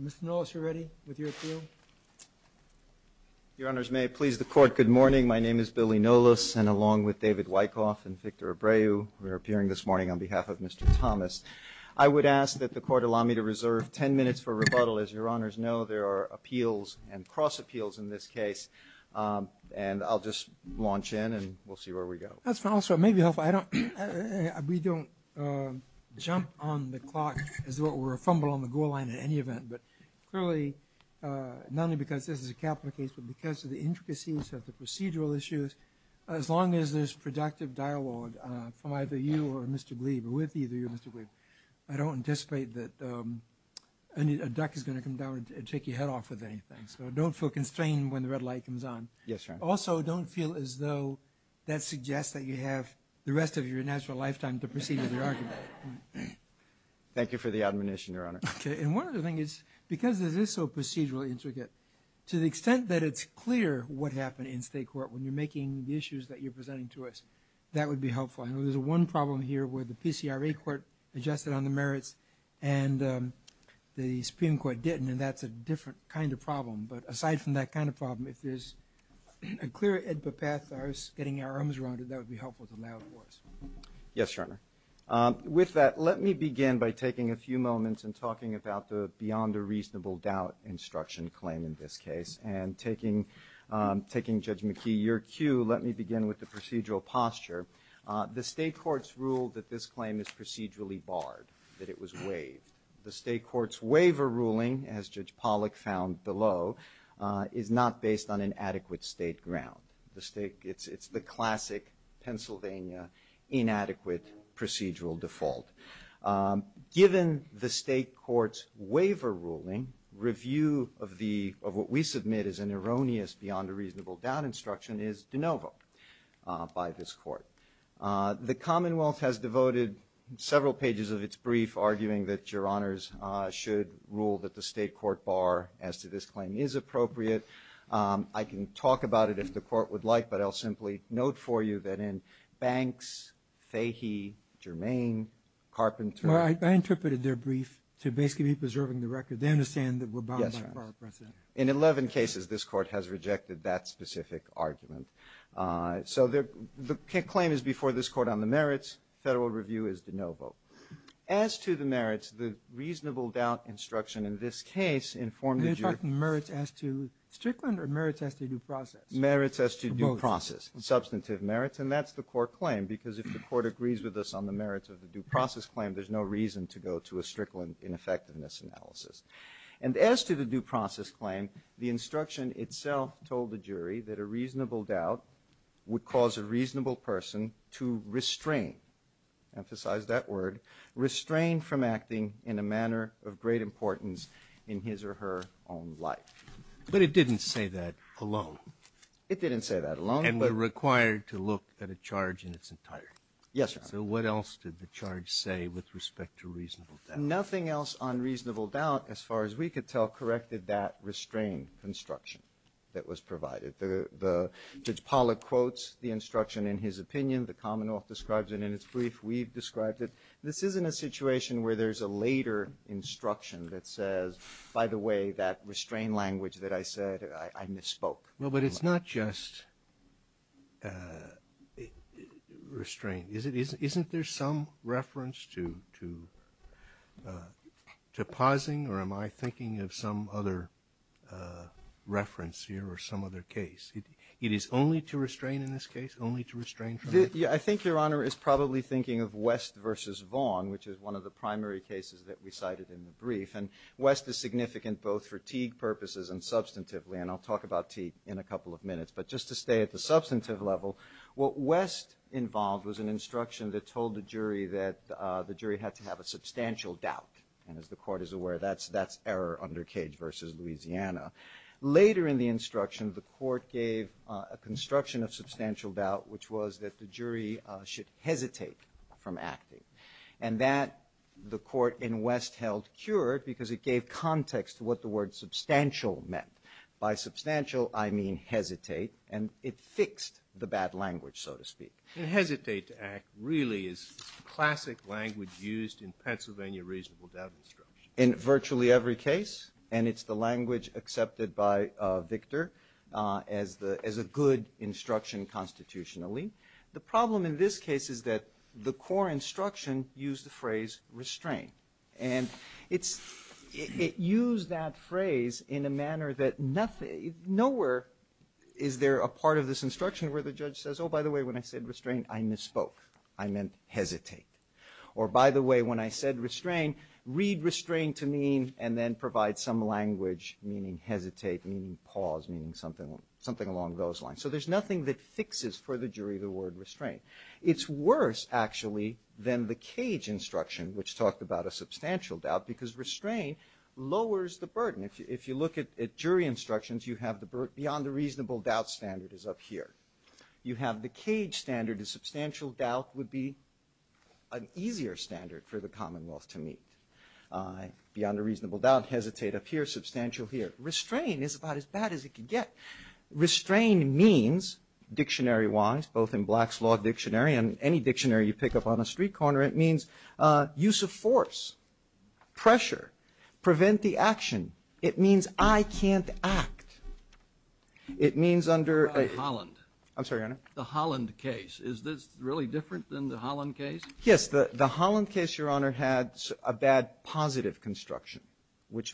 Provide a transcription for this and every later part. Mr. Nolis, you're ready with your appeal? Your Honors, may it please the Court, good morning. My name is Billy Nolis, and along with David Wyckoff and Victor Abreu, we're appearing this morning on behalf of Mr. Thomas. I would ask that the Court allow me to reserve ten minutes for rebuttal. As your Honors know, there are appeals and cross-appeals in this case, and I'll just launch in and we'll see where we go. That's fine also. It may be helpful. We don't jump on the clock or fumble on the goal line in any event, but clearly, not only because this is a capital case, but because of the intricacies of the procedural issues, as long as there's productive dialogue from either you or Mr. Breed, with either you or Mr. Breed, I don't anticipate that a duck is going to come down and take your head off of anything. So don't feel constrained when the red light comes on. Yes, Your Honors. Also, don't feel as though that suggests that you have the rest of your natural lifetime to proceed with your argument. Thank you for the admonition, Your Honors. Okay. And one other thing is, because it is so procedurally intricate, to the extent that it's clear what happened in State Court when you're making the issues that you're presenting to us, that would be helpful. I know there's one problem here where the PCRA Court adjusted on the merits and the Supreme Court didn't, and that's a different kind of problem. But a clear edpa path to us getting our arms around it, that would be helpful to lay out for us. Yes, Your Honor. With that, let me begin by taking a few moments and talking about the beyond a reasonable doubt instruction claim in this case. And taking Judge McKee, your cue, let me begin with the procedural posture. The State Courts rule that this claim is procedurally barred, that it was waived. The State Courts waiver ruling, as Judge Pollack found below, is not based on an adequate State ground. The State, it's the classic Pennsylvania inadequate procedural default. Given the State Courts waiver ruling, review of the, of what we submit as an erroneous beyond a reasonable doubt instruction is de novo by this Court. The Commonwealth has devoted several pages of its brief arguing that Your Honors should rule that the State Court bar as to this claim is appropriate. I can talk about it if the Court would like, but I'll simply note for you that in Banks, Fahey, Germain, Carpenter... I interpreted their brief to basically be preserving the record. They understand that we're bound by a bar precedent. In 11 cases, this Court has rejected that specific argument. So the claim is before this Court on the merits. Federal review is de novo. As to the merits, the reasonable doubt instruction in this case informed the jury... You're talking merits as to Strickland or merits as to due process? Merits as to due process. Substantive merits, and that's the Court claim, because if the Court agrees with us on the merits of the due process claim, there's no reason to go to a Strickland ineffectiveness analysis. And as to the due process claim, the instruction itself told the jury that a reasonable doubt would cause a reasonable person to restrain, emphasize that word, restrain from acting in a manner of great importance in his or her own life. But it didn't say that alone. It didn't say that alone. And they're required to look at a charge in its entirety. Yes, Your Honor. So what else did the charge say with respect to reasonable doubt? Nothing else on reasonable doubt, as far as we could tell, corrected that restrain construction that was provided. Judge Pollack quotes the instruction in his opinion. The common law describes it in its brief. We've described it. This isn't a situation where there's a later instruction that says, by the way, that restrain language that I said, I misspoke. No, but it's not just restrain. Isn't there some reference to pausing, or am I thinking of some other reference here or some other case? It is only to restrain in this case? Only to restrain from it? I think Your Honor is probably thinking of West v. Vaughn, which is one of the primary cases that we cited in the brief. And West is significant both for Teague purposes and substantively. And I'll talk about Teague in a couple of minutes. But just to stay at the substantive level, what West involved was an instruction that told the jury that the jury had to have a substantial doubt. And as the Court is aware, that's error under Cage v. Louisiana. Later in the instruction, the Court gave a construction of substantial doubt, which was that the jury should hesitate from acting. And that the Court in West held pure because it gave context to what the word substantial meant. By substantial, I mean hesitate. And it fixed the bad language, so to speak. To hesitate to act really is classic language used in Pennsylvania reasonable doubt instruction. In virtually every case. And it's the language accepted by Victor as a good instruction constitutionally. The problem in this case is that the core instruction used the phrase restrain. And it used that phrase in a manner that nowhere is there a part of this instruction where the judge says, oh, by the way, when I said restrain, I misspoke. I meant hesitate. Or by the way, when I said restrain, read restrain to mean and then provide some language meaning hesitate, meaning pause, meaning something along those lines. So there's nothing that fixes for the jury the word restrain. It's worse, actually, than the Cage instruction, which talked about a substantial doubt, because restrain lowers the burden. If you look at jury instructions, you have the beyond a reasonable doubt standard is up here. You have the Cage standard. A substantial doubt would be an easier standard for the Commonwealth to meet. Beyond a reasonable doubt, hesitate up here. Substantial here. Restrain is about as bad as it can get. Restrain means, dictionary-wise, both in Black's Law Dictionary and any dictionary you pick up on a street corner, it means use of force, pressure, prevent the action. It means I can't act. It means under a... The Holland case. Is this really different than the Holland case? Yes. The Holland case, Your Honor, had a bad positive construction,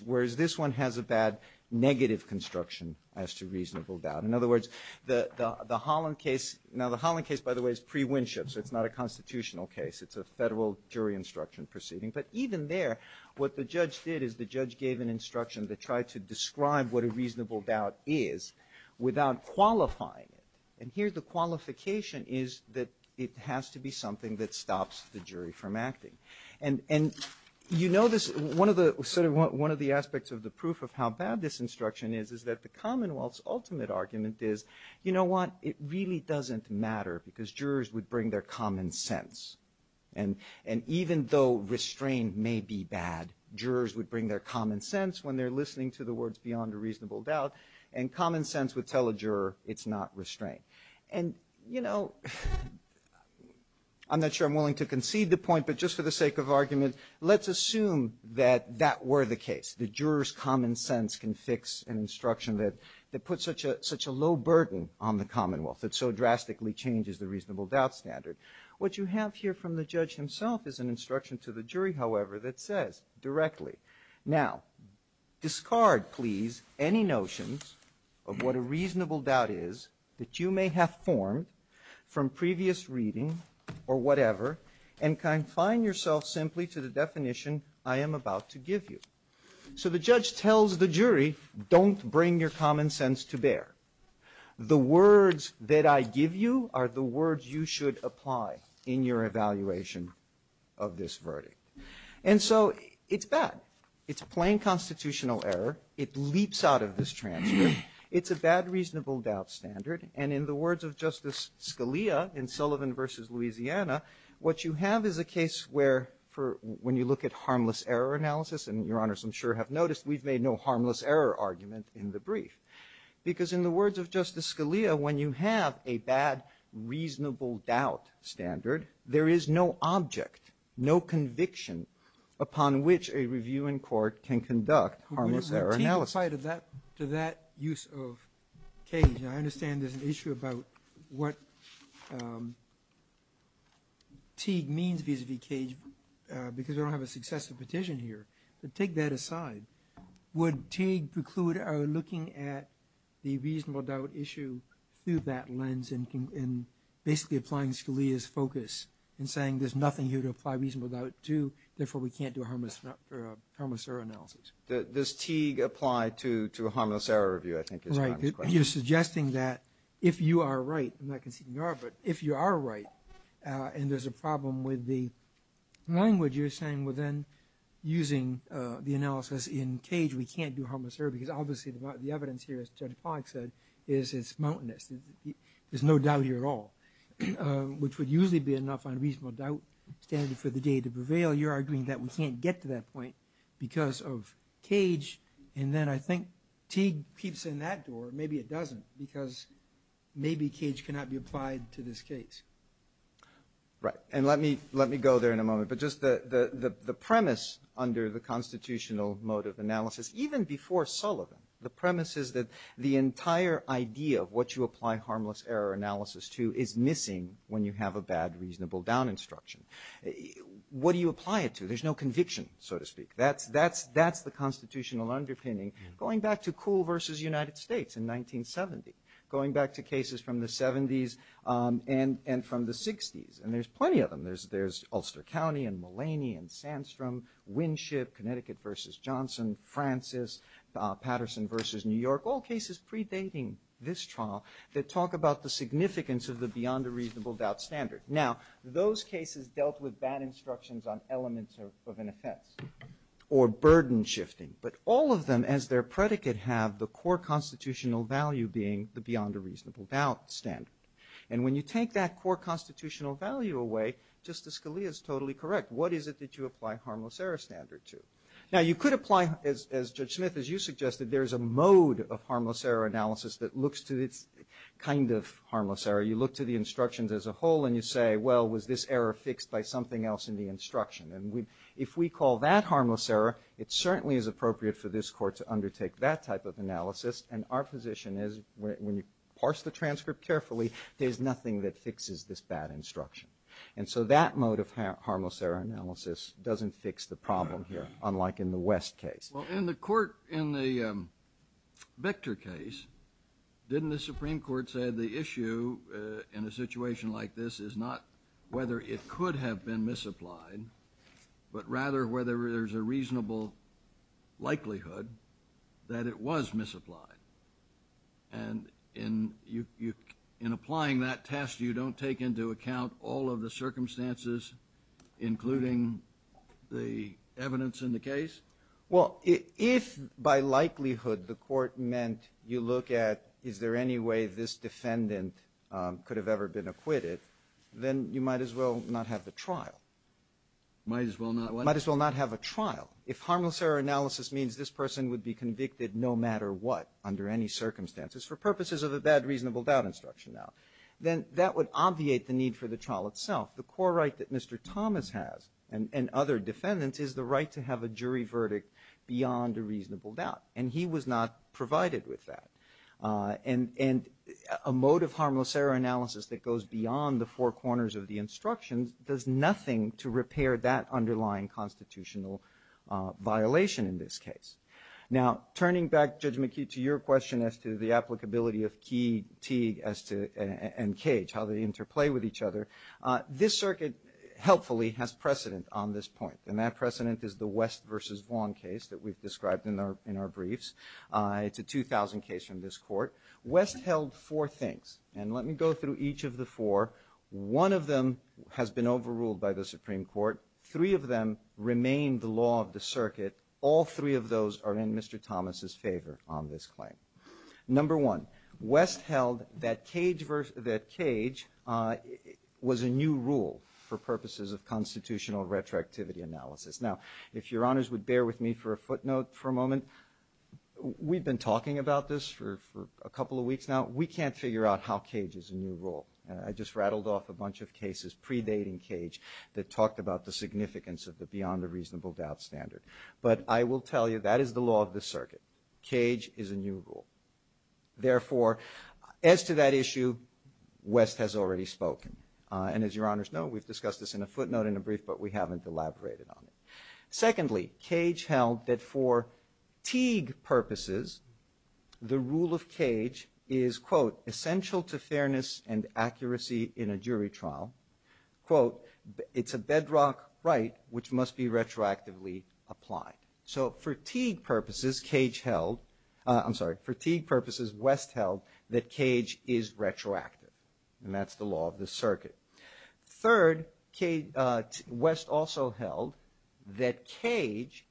whereas this one has a bad negative construction as to reasonable doubt. In other words, the Holland case, now the Holland case, by the way, is pre-Winship, so it's not a constitutional case. It's a federal jury instruction proceeding. But even there, what the judge did is the judge gave an instruction that tried to describe what a reasonable doubt is without qualifying it. And here the qualification is that it has to be something that stops the jury from acting. And you know this, one of the aspects of the proof of how bad this instruction is, is that the Commonwealth's ultimate argument is, you know what, it really doesn't matter because jurors would bring their common sense. And even though restraint may be bad, jurors would bring their common sense when they're listening to the words beyond a reasonable doubt, and common sense would tell a juror it's not restraint. And you know, I'm not sure I'm willing to concede the point, but just for the sake of argument, let's assume that that were the case. The juror's common sense can fix an instruction that puts such a low burden on the Commonwealth, that so drastically changes the reasonable doubt standard. What you have here from the judge himself is an instruction to the jury, however, that says directly, now, discard, please, any notions of what the reasonable doubt is that you may have formed from previous reading, or whatever, and confine yourself simply to the definition I am about to give you. So the judge tells the jury, don't bring your common sense to bear. The words that I give you are the words you should apply in your evaluation of this verdict. And so, it's bad. It's a plain constitutional error. It leaps out of this transcript. It's a bad reasonable doubt standard. And in the words of Justice Scalia in Sullivan v. Louisiana, what you have is a case where, when you look at harmless error analysis, and your honors I'm sure have noticed, we've made no harmless error argument in the brief. Because in the words of Justice Scalia, when you have a bad reasonable doubt standard, there is no object, no conviction, upon which a review in court can conduct harmless error analysis. Now, to that use of cage, and I understand there's an issue about what Teague means vis-a-vis cage, because I don't have a successive petition here, but take that aside. Would Teague preclude our looking at the reasonable doubt issue through that lens and basically applying Scalia's focus in saying there's nothing here to apply reasonable doubt to, therefore we can't do harmless error analysis? Does Teague apply to a harmless error review, I think, as a consequence? You're suggesting that, if you are right, I'm not conceding you are, but if you are right, and there's a problem with the language you're saying within using the analysis in cage, we can't do harmless error, because obviously the evidence here, as Judge Pollack said, is it's mountainous. There's no doubt here at all. Which would usually be enough on reasonable doubt standard for the day to prevail. You're arguing that we can't get to that point because of cage, and then I think Teague keeps in that door. Maybe it doesn't, because maybe cage cannot be applied to this case. Right. And let me go there in a moment. But just the premise under the constitutional mode of analysis, even before Sullivan, the premise is that the entire idea of what you apply it to. There's no conviction, so to speak. That's the constitutional underpinning. Going back to Coole versus United States in 1970. Going back to cases from the 70s and from the 60s. And there's plenty of them. There's Ulster County and Mulaney and Sandstrom, Winship, Connecticut versus Johnson, Francis, Patterson versus New York. All cases predating this trial that talk about the significance of the beyond a reasonable doubt standard. Now, those cases dealt with bad instructions on elements of an offense. Or burden shifting. But all of them, as their predicate, have the core constitutional value being the beyond a reasonable doubt standard. And when you take that core constitutional value away, Justice Scalia is totally correct. What is it that you apply harmless error standard to? Now, you could apply, as Judge Smith, as you suggested, there's a mode of harmless error analysis that looks to this kind of harmless error. You look to the instructions as a whole and you say, well, was this error fixed by something else in the instruction? And if we call that harmless error, it certainly is appropriate for this court to undertake that type of analysis. And our position is, when you parse the transcript carefully, there's nothing that fixes this bad instruction. And so that mode of harmless error analysis doesn't fix the problem here, unlike in the West case. Well, in the court, in the Victor case, didn't the Supreme Court say the issue in a situation like this is not whether it could have been misapplied, but rather whether there's a reasonable likelihood that it was misapplied? And in applying that test, you don't take into account all of the circumstances, including the evidence in the case? Well, if by likelihood the court meant you look at is there any way this defendant could have ever been acquitted, then you might as well not have the trial. Might as well not what? Might as well not have a trial. If harmless error analysis means this person would be convicted no matter what, under any circumstances, for purposes of the bad reasonable doubt instruction, then that would obviate the need for the trial itself. The core right that Mr. Thomas has, and other defendants, is the right to have a jury verdict beyond a reasonable doubt. And he was not provided with that. And a mode of harmless error analysis that goes beyond the four corners of the instruction does nothing to repair that underlying constitutional violation in this case. Now, turning back, Judge McKee, to your question as to the applicability of Teague and Cage, how they interplay with each other, this circuit helpfully has precedent on this point. And that precedent is the West v. Vaughn case that we've described in our briefs. It's a 2000 case from this court. West held four things. And let me go through each of the four. One of them has been overruled by the Supreme Court. Three of them remain the law of the circuit. All three of those are in Mr. Thomas' favor on this claim. Number one, West held that Cage was a new rule for purposes of constitutional retroactivity analysis. Now, if your honors would bear with me for a footnote for a moment, we've been talking about this for a couple of weeks now. We can't figure out how Cage is a new rule. I just rattled off a bunch of cases predating Cage that talked about the significance of the reasonable doubt standard. But I will tell you, that is the law of the circuit. Cage is a new rule. Therefore, as to that issue, West has already spoken. And as your honors know, we've discussed this in a footnote in a brief, but we haven't elaborated on it. Secondly, Cage held that for Teague purposes, the rule of Cage is, quote, essential to be retroactively applied. So for Teague purposes, Cage held, I'm sorry, for Teague purposes, West held that Cage is retroactive. And that's the law of the circuit. Third, West also held that Cage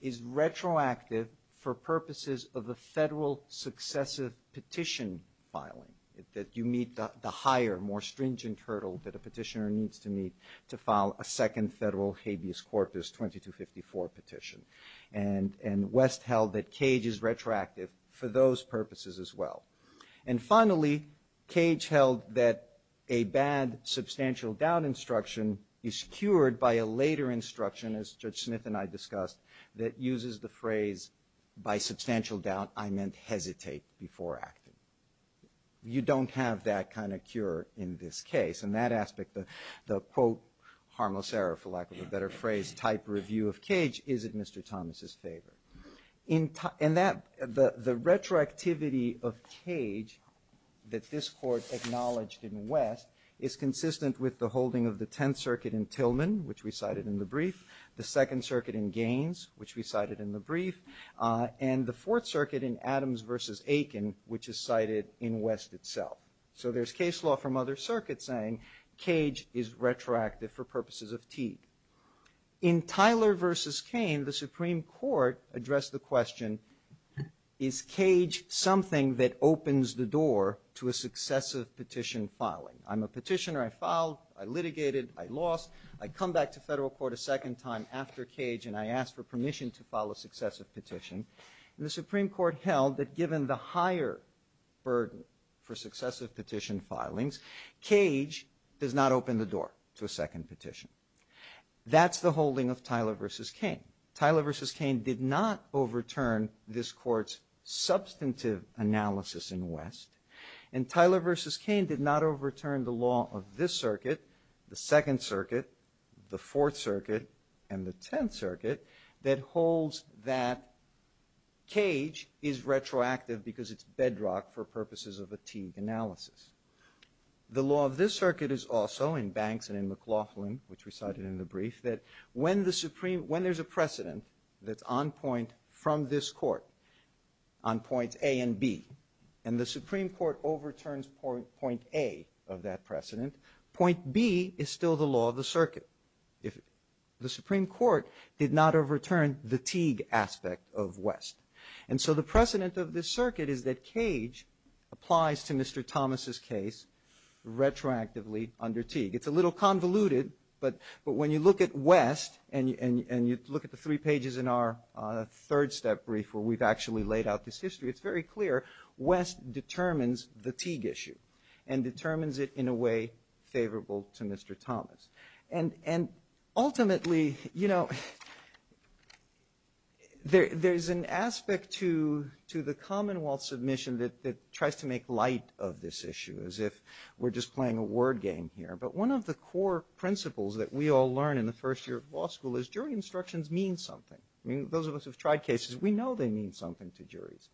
is retroactive for purposes of the federal successive petition filing, that you meet the higher, more stringent hurdle that a petitioner needs to meet to file a second federal habeas corpus 2254 petition. And West held that Cage is retroactive for those purposes as well. And finally, Cage held that a bad substantial doubt instruction is cured by a later instruction, as Judge Smith and I discussed, that uses the phrase, by substantial doubt, I meant hesitate before acting. You don't have that kind of cure in this case. In that aspect, the, quote, harmless error, for lack of a better phrase, type review of Cage isn't Mr. Thomas' favorite. In that, the retroactivity of Cage that this court acknowledged in West is consistent with the holding of the Tenth Circuit in Tillman, which we cited in the brief, the Second Circuit in Gaines, which we cited in the brief, and the Fourth Circuit in Adams versus Aiken, which is cited in West itself. So there's case law from other circuits saying Cage is retroactive for purposes of T. In Tyler versus Kane, the Supreme Court addressed the question, is Cage something that opens the door to a successive petition filing? I'm a petitioner, I filed, I litigated, I lost, I come back to federal court a second time after Cage and I ask for permission to file a successive petition. And the Supreme Court held that given the higher burden for successive petition filings, Cage does not open the door to a second petition. That's the holding of Tyler versus Kane. Tyler versus Kane did not overturn this court's substantive analysis in West. And Tyler versus Kane did not overturn the law of this circuit, the Second Circuit, the Fourth Circuit, and the Tenth Circuit, that holds that Cage is retroactive because it's bedrock for purposes of a Teague analysis. The law of this circuit is also, in Banks and in McLaughlin, which we cited in the brief, that when there's a precedent that's on point from this court, on points A and B, and the Supreme Court overturns point A of that precedent, point B is still the law of the circuit. The Supreme Court did not overturn the Teague aspect of West. And so the precedent of this circuit is that Cage applies to Mr. Thomas' case retroactively under Teague. It's a little convoluted, but when you look at West and you look at the three pages in our third step brief where we've actually laid out this history, it's very clear West determines the Teague issue and determines it in a way favorable to Mr. Thomas. And ultimately, you know, there's an aspect to the Commonwealth submission that tries to make light of this issue, as if we're just playing a word game here. But one of the core principles that we all learn in the first year of law school is jury instructions mean something. I mean, those of us who've tried cases, we know they mean something to juries.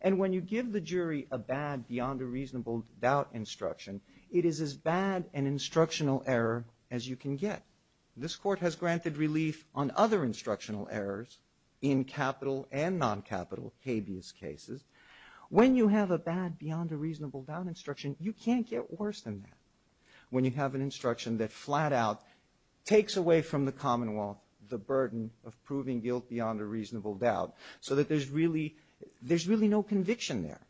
And when you give the jury a bad, beyond a reasonable doubt instruction, it is as bad an instructional error as you can get. This court has granted relief on other instructional errors in capital and non-capital habeas cases. When you have a bad, beyond a reasonable doubt instruction, you can't get worse than that when you have an instruction that flat out takes away from the Commonwealth the burden of proving guilt beyond a reasonable doubt, so that there's really no conviction there.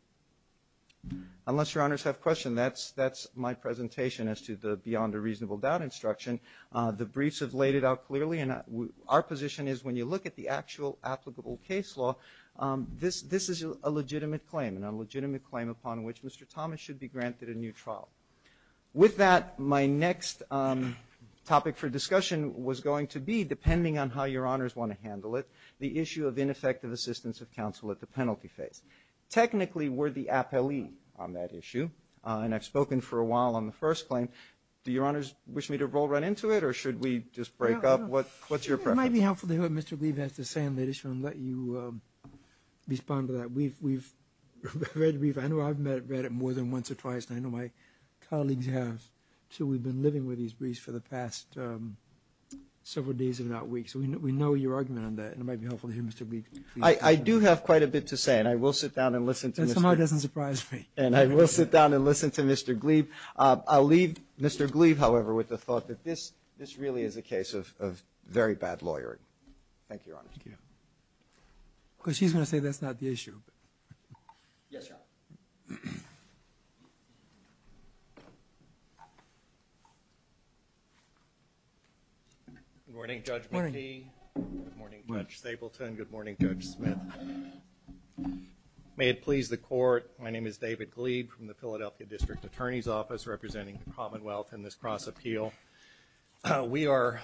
Unless your honors have a question, that's my presentation as to the beyond a reasonable doubt instruction. The briefs have laid it out clearly, and our position is when you look at the actual applicable case law, this is a legitimate claim, and a legitimate claim upon which Mr. Thomas should be granted a new trial. With that, my next topic for discussion was going to be, depending on how your honors want to handle it, the issue of ineffective assistance of counsel at the penalty phase. Technically, we're the appellee on that issue, and I've spoken for a while on the first claim. Do your honors wish me to roll right into it, or should we just break up? What's your preference? It might be helpful to hear what Mr. Beeb has to say on that issue, and let you respond to that. I know I've read it more than once or twice, and I know my colleagues have, so we've been living with these briefs for the past several days, if not weeks. We know your argument on that, and it might be helpful to hear Mr. Beeb. I do have quite a bit to say, and I will sit down and listen to Mr. Gleave. That somewhat doesn't surprise me. I will sit down and listen to Mr. Gleave. I'll leave Mr. Gleave, however, with the thought that this really is a case of very bad lawyering. Thank you, your honors. Of course, he's going to say that's not the issue. Yes, sir. Good morning, Judge Beeb. Good morning, Judge Stapleton. Good morning, Judge Smith. May it please the court, my name is David Gleave from the Philadelphia District Attorney's Office, representing the Commonwealth in this cross-appeal. We are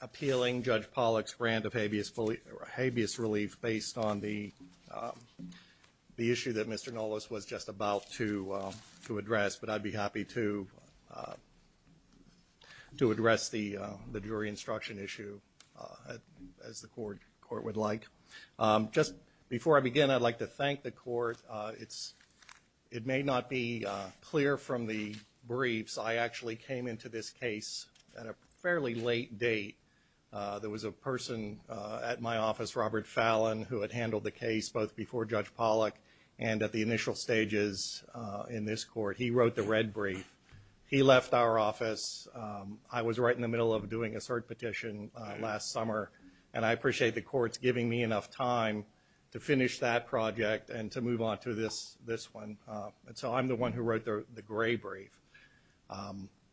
appealing Judge Pollack's grant of habeas relief based on the issue that Mr. Nollis was just about to address, but I'd be happy to address the jury instruction issue as the court would like. Just before I begin, I'd like to thank the court. It may not be clear from the briefs, but I actually came into this case at a fairly late date. There was a person at my office, Robert Fallon, who had handled the case both before Judge Pollack and at the initial stages in this court. He wrote the red brief. He left our office. I was right in the middle of doing a third petition last summer, and I appreciate the courts giving me enough time to finish that project and to move on to this one. So I'm the one who wrote the gray brief. I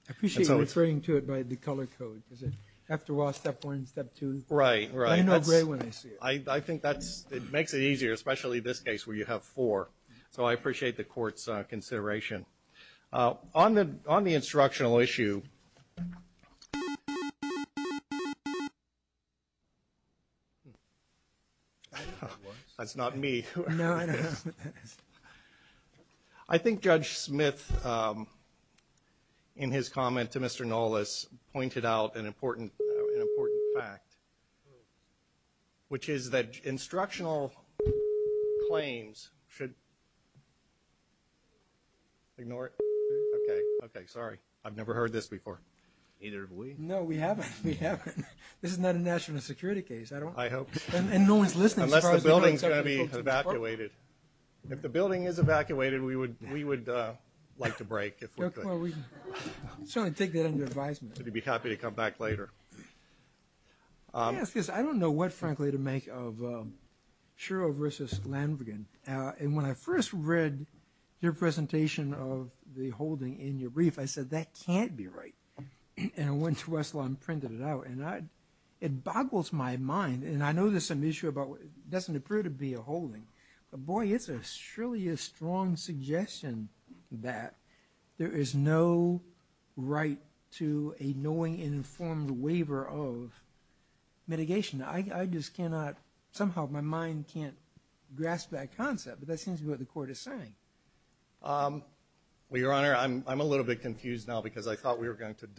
appreciate you referring to it by the color code. Is it after all step one, step two? Right, right. I know gray one is here. I think that makes it easier, especially this case where you have four. So I appreciate the court's consideration. On the instructional issue... That's not me. No, I don't know. I think Judge Smith, in his comment to Mr. Nolas, pointed out an important fact, which is that instructional claims should... Ignore it? Okay, sorry. I've never heard this before. No, we haven't. This is not a national security case. I hope not. Unless the building is going to be evacuated. If the building is evacuated, we would like to break if we could. I'm sorry to take that under advisement. I'd be happy to come back later. I don't know what, frankly, to make of Shiro versus Lanvigan. And when I first read your presentation of the holding in your brief, I said, that can't be right. And I went to Wesselheim and printed it out. It boggles my mind. And I know there's some issue about it doesn't appear to be a holding. But, boy, it's truly a strong suggestion that there is no right to a knowing and informed waiver of mitigation. I just cannot, somehow my mind can't grasp that concept. But that seems to be what the court is saying. Well, Your Honor, I'm a little bit confused now because I thought we were going to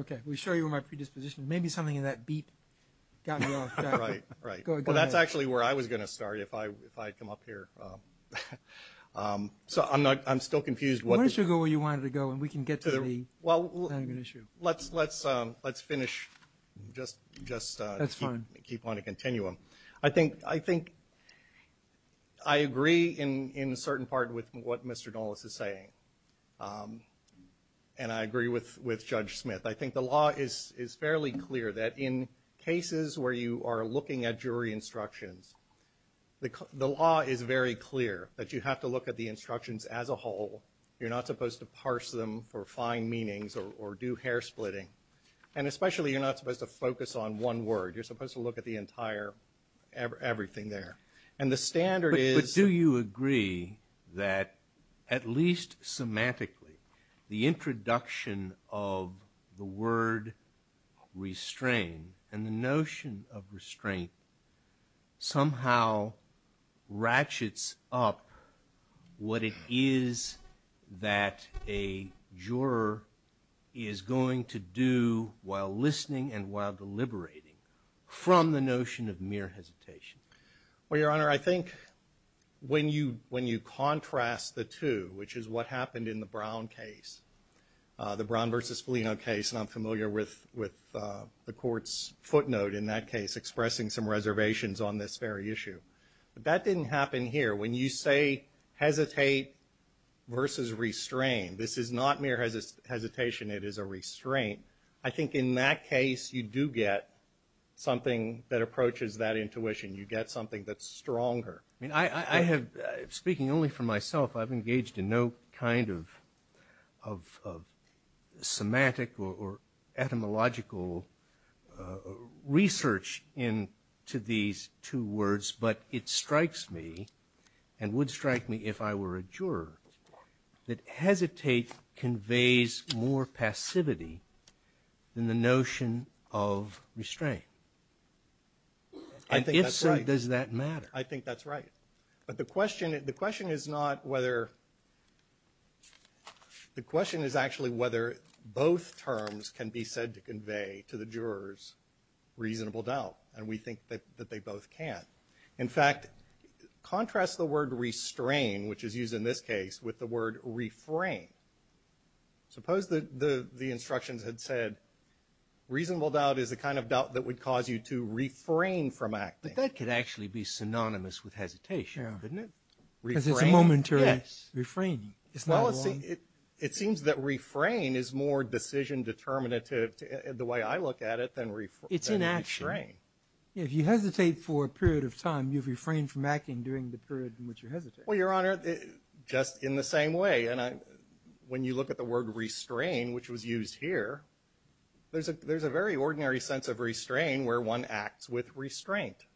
Okay. We'll show you my predisposition. Maybe something in that beat got lost. Right, right. Well, that's actually where I was going to start if I come up here. So I'm still confused. Why don't you go where you wanted to go and we can get to the issue. Let's finish. That's fine. Just keep on a continuum. I think I agree in a certain part with what Mr. Dulles is saying. And I agree with Judge Smith. I think the law is fairly clear that in cases where you are looking at jury instructions, the law is very clear that you have to look at the instructions as a whole. You're not supposed to parse them for fine meanings or do hair splitting. And especially you're not supposed to focus on one word. You're supposed to look at the entire, everything there. But do you agree that, at least semantically, the introduction of the word restraint and the notion of restraint somehow ratchets up what it is that a juror is going to do while listening and while deliberating from the notion of mere hesitation? Well, Your Honor, I think when you contrast the two, which is what happened in the Brown case, the Brown versus Foligno case, and I'm familiar with the court's footnote in that case, expressing some reservations on this very issue. That didn't happen here. When you say hesitate versus restrain, this is not mere hesitation. It is a restraint. I think in that case you do get something that approaches that intuition. You get something that's stronger. I have, speaking only for myself, I've engaged in no kind of semantic or etymological research into these two words, but it strikes me, and would strike me if I were a juror, that hesitate conveys more passivity than the notion of restraint. And if so, does that matter? I think that's right. But the question is not whether, the question is actually whether both terms can be said to convey to the jurors reasonable doubt. And we think that they both can. In fact, contrast the word restrain, which is used in this case, with the word refrain. Suppose the instructions had said reasonable doubt is the kind of doubt that would cause you to refrain from acting. But that could actually be synonymous with hesitation, couldn't it? Because it's a momentary refrain. It seems that refrain is more decision determinative, the way I look at it, than restrain. It's inaction. If you hesitate for a period of time, you've refrained from acting during the period in which you're hesitating. Well, Your Honor, just in the same way. And when you look at the word restrain, which was used here, there's a very ordinary sense of restrain where one acts with restraint.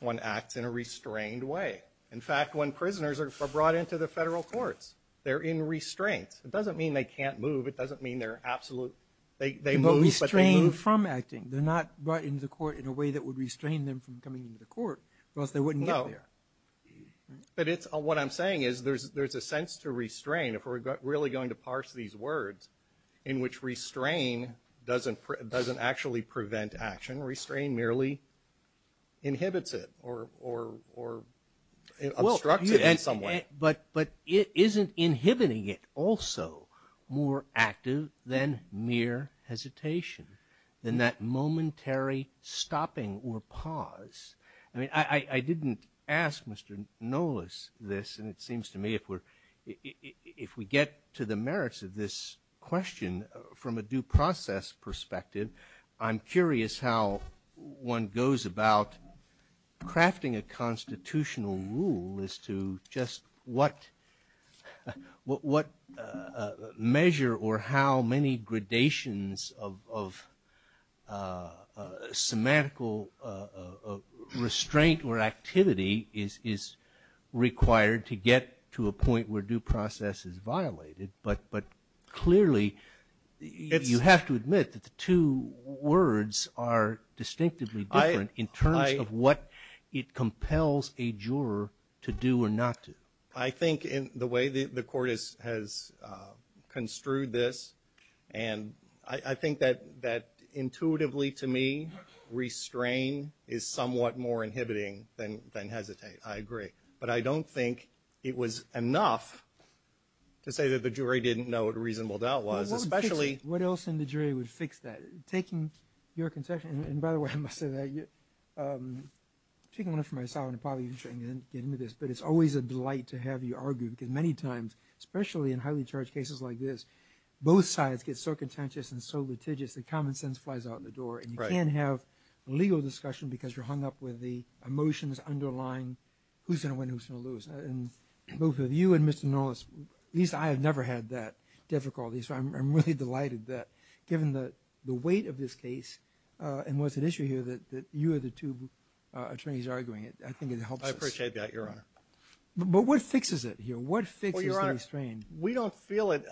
One acts in a restrained way. In fact, when prisoners are brought into the federal courts, they're in restraint. It doesn't mean they can't move. It doesn't mean they're absolute. They will restrain from acting. They're not brought into the court in a way that would restrain them from coming into the court, or else they wouldn't get there. But what I'm saying is there's a sense to restrain. If we're really going to parse these words in which restrain doesn't actually prevent action, restrain merely inhibits it or obstructs it in some way. But it isn't inhibiting it also more active than mere hesitation, than that momentary stopping or pause. I didn't ask Mr. Nolas this, and it seems to me if we get to the merits of this question from a due process perspective, I'm curious how one goes about crafting a constitutional rule as to just what measure or how many gradations of semantical restraint or activity is required to get to a point where due process is violated. But clearly, you have to admit that the two words are distinctively different in terms of what it compels a juror to do or not do. I think in the way the court has construed this, and I think that intuitively to me, restrain is somewhat more inhibiting than hesitate. I agree, but I don't think it was enough to say that the jury didn't know what a reasonable doubt was. What else in the jury would fix that? Taking your concession – and by the way, I must say that – I'm taking one from myself and probably going to get into this. But it's always a delight to have you argue because many times, especially in highly charged cases like this, both sides get so contentious and so litigious that common sense flies out the door. And you can't have a legal discussion because you're hung up with the emotions underlying who's going to win and who's going to lose. And both of you and Mr. Norris – at least I have never had that difficulty, so I'm really delighted that given the weight of this case and what's at issue here, that you are the two attorneys arguing it. I think it helps us. I appreciate that, Your Honor. But what fixes it here? What fixes the restraint? Well, Your Honor, we don't feel it.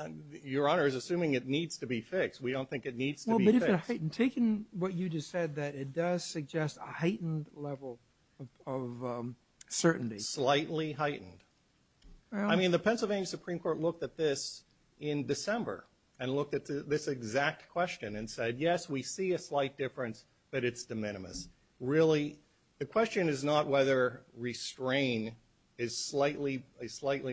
Your Honor is assuming it needs to be fixed. We don't think it needs to be fixed. But it is a heightened – taking what you just said, that it does suggest a heightened level of certainty. Slightly heightened. I mean, the Pennsylvania Supreme Court looked at this in December and looked at this exact question and said, yes, we see a slight difference, but it's de minimis. Really, the question is not whether restraint is slightly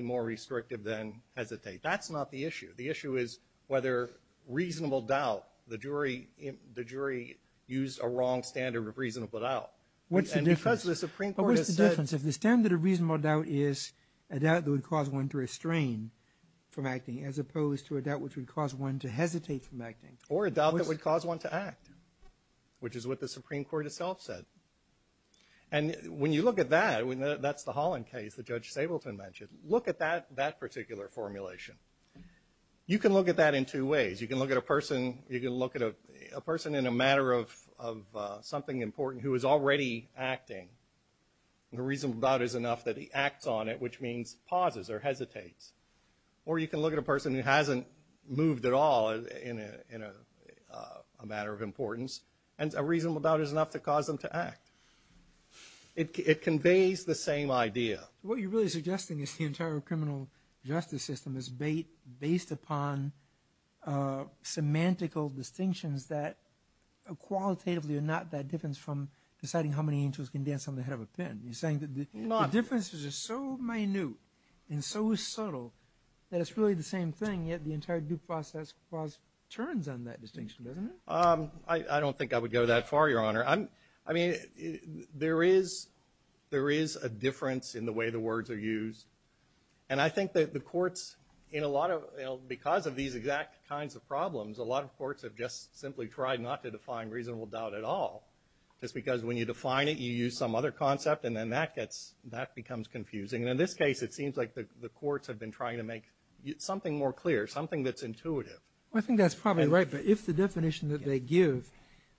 more restrictive than hesitate. That's not the issue. The issue is whether reasonable doubt – the jury used a wrong standard of reasonable doubt. What's the difference? And because the Supreme Court has said – What's the difference if the standard of reasonable doubt is a doubt that would cause one to restrain from acting as opposed to a doubt which would cause one to hesitate from acting? Or a doubt that would cause one to act, which is what the Supreme Court itself said. And when you look at that, that's the Holland case that Judge Stabelson mentioned. Look at that particular formulation. You can look at that in two ways. You can look at a person in a matter of something important who is already acting. The reasonable doubt is enough that he acts on it, which means pauses or hesitates. Or you can look at a person who hasn't moved at all in a matter of importance, and a reasonable doubt is enough to cause them to act. It conveys the same idea. What you're really suggesting is the entire criminal justice system is based upon semantical distinctions that qualitatively are not that different from deciding how many angels can dance on the head of a pin. You're saying that the differences are so minute and so subtle that it's really the same thing, yet the entire due process turns on that distinction, doesn't it? I don't think I would go that far, Your Honor. I mean, there is a difference in the way the words are used. And I think that the courts, because of these exact kinds of problems, a lot of courts have just simply tried not to define reasonable doubt at all. Just because when you define it, you use some other concept, and then that becomes confusing. And in this case, it seems like the courts have been trying to make something more clear, something that's intuitive. I think that's probably right. But if the definition that they give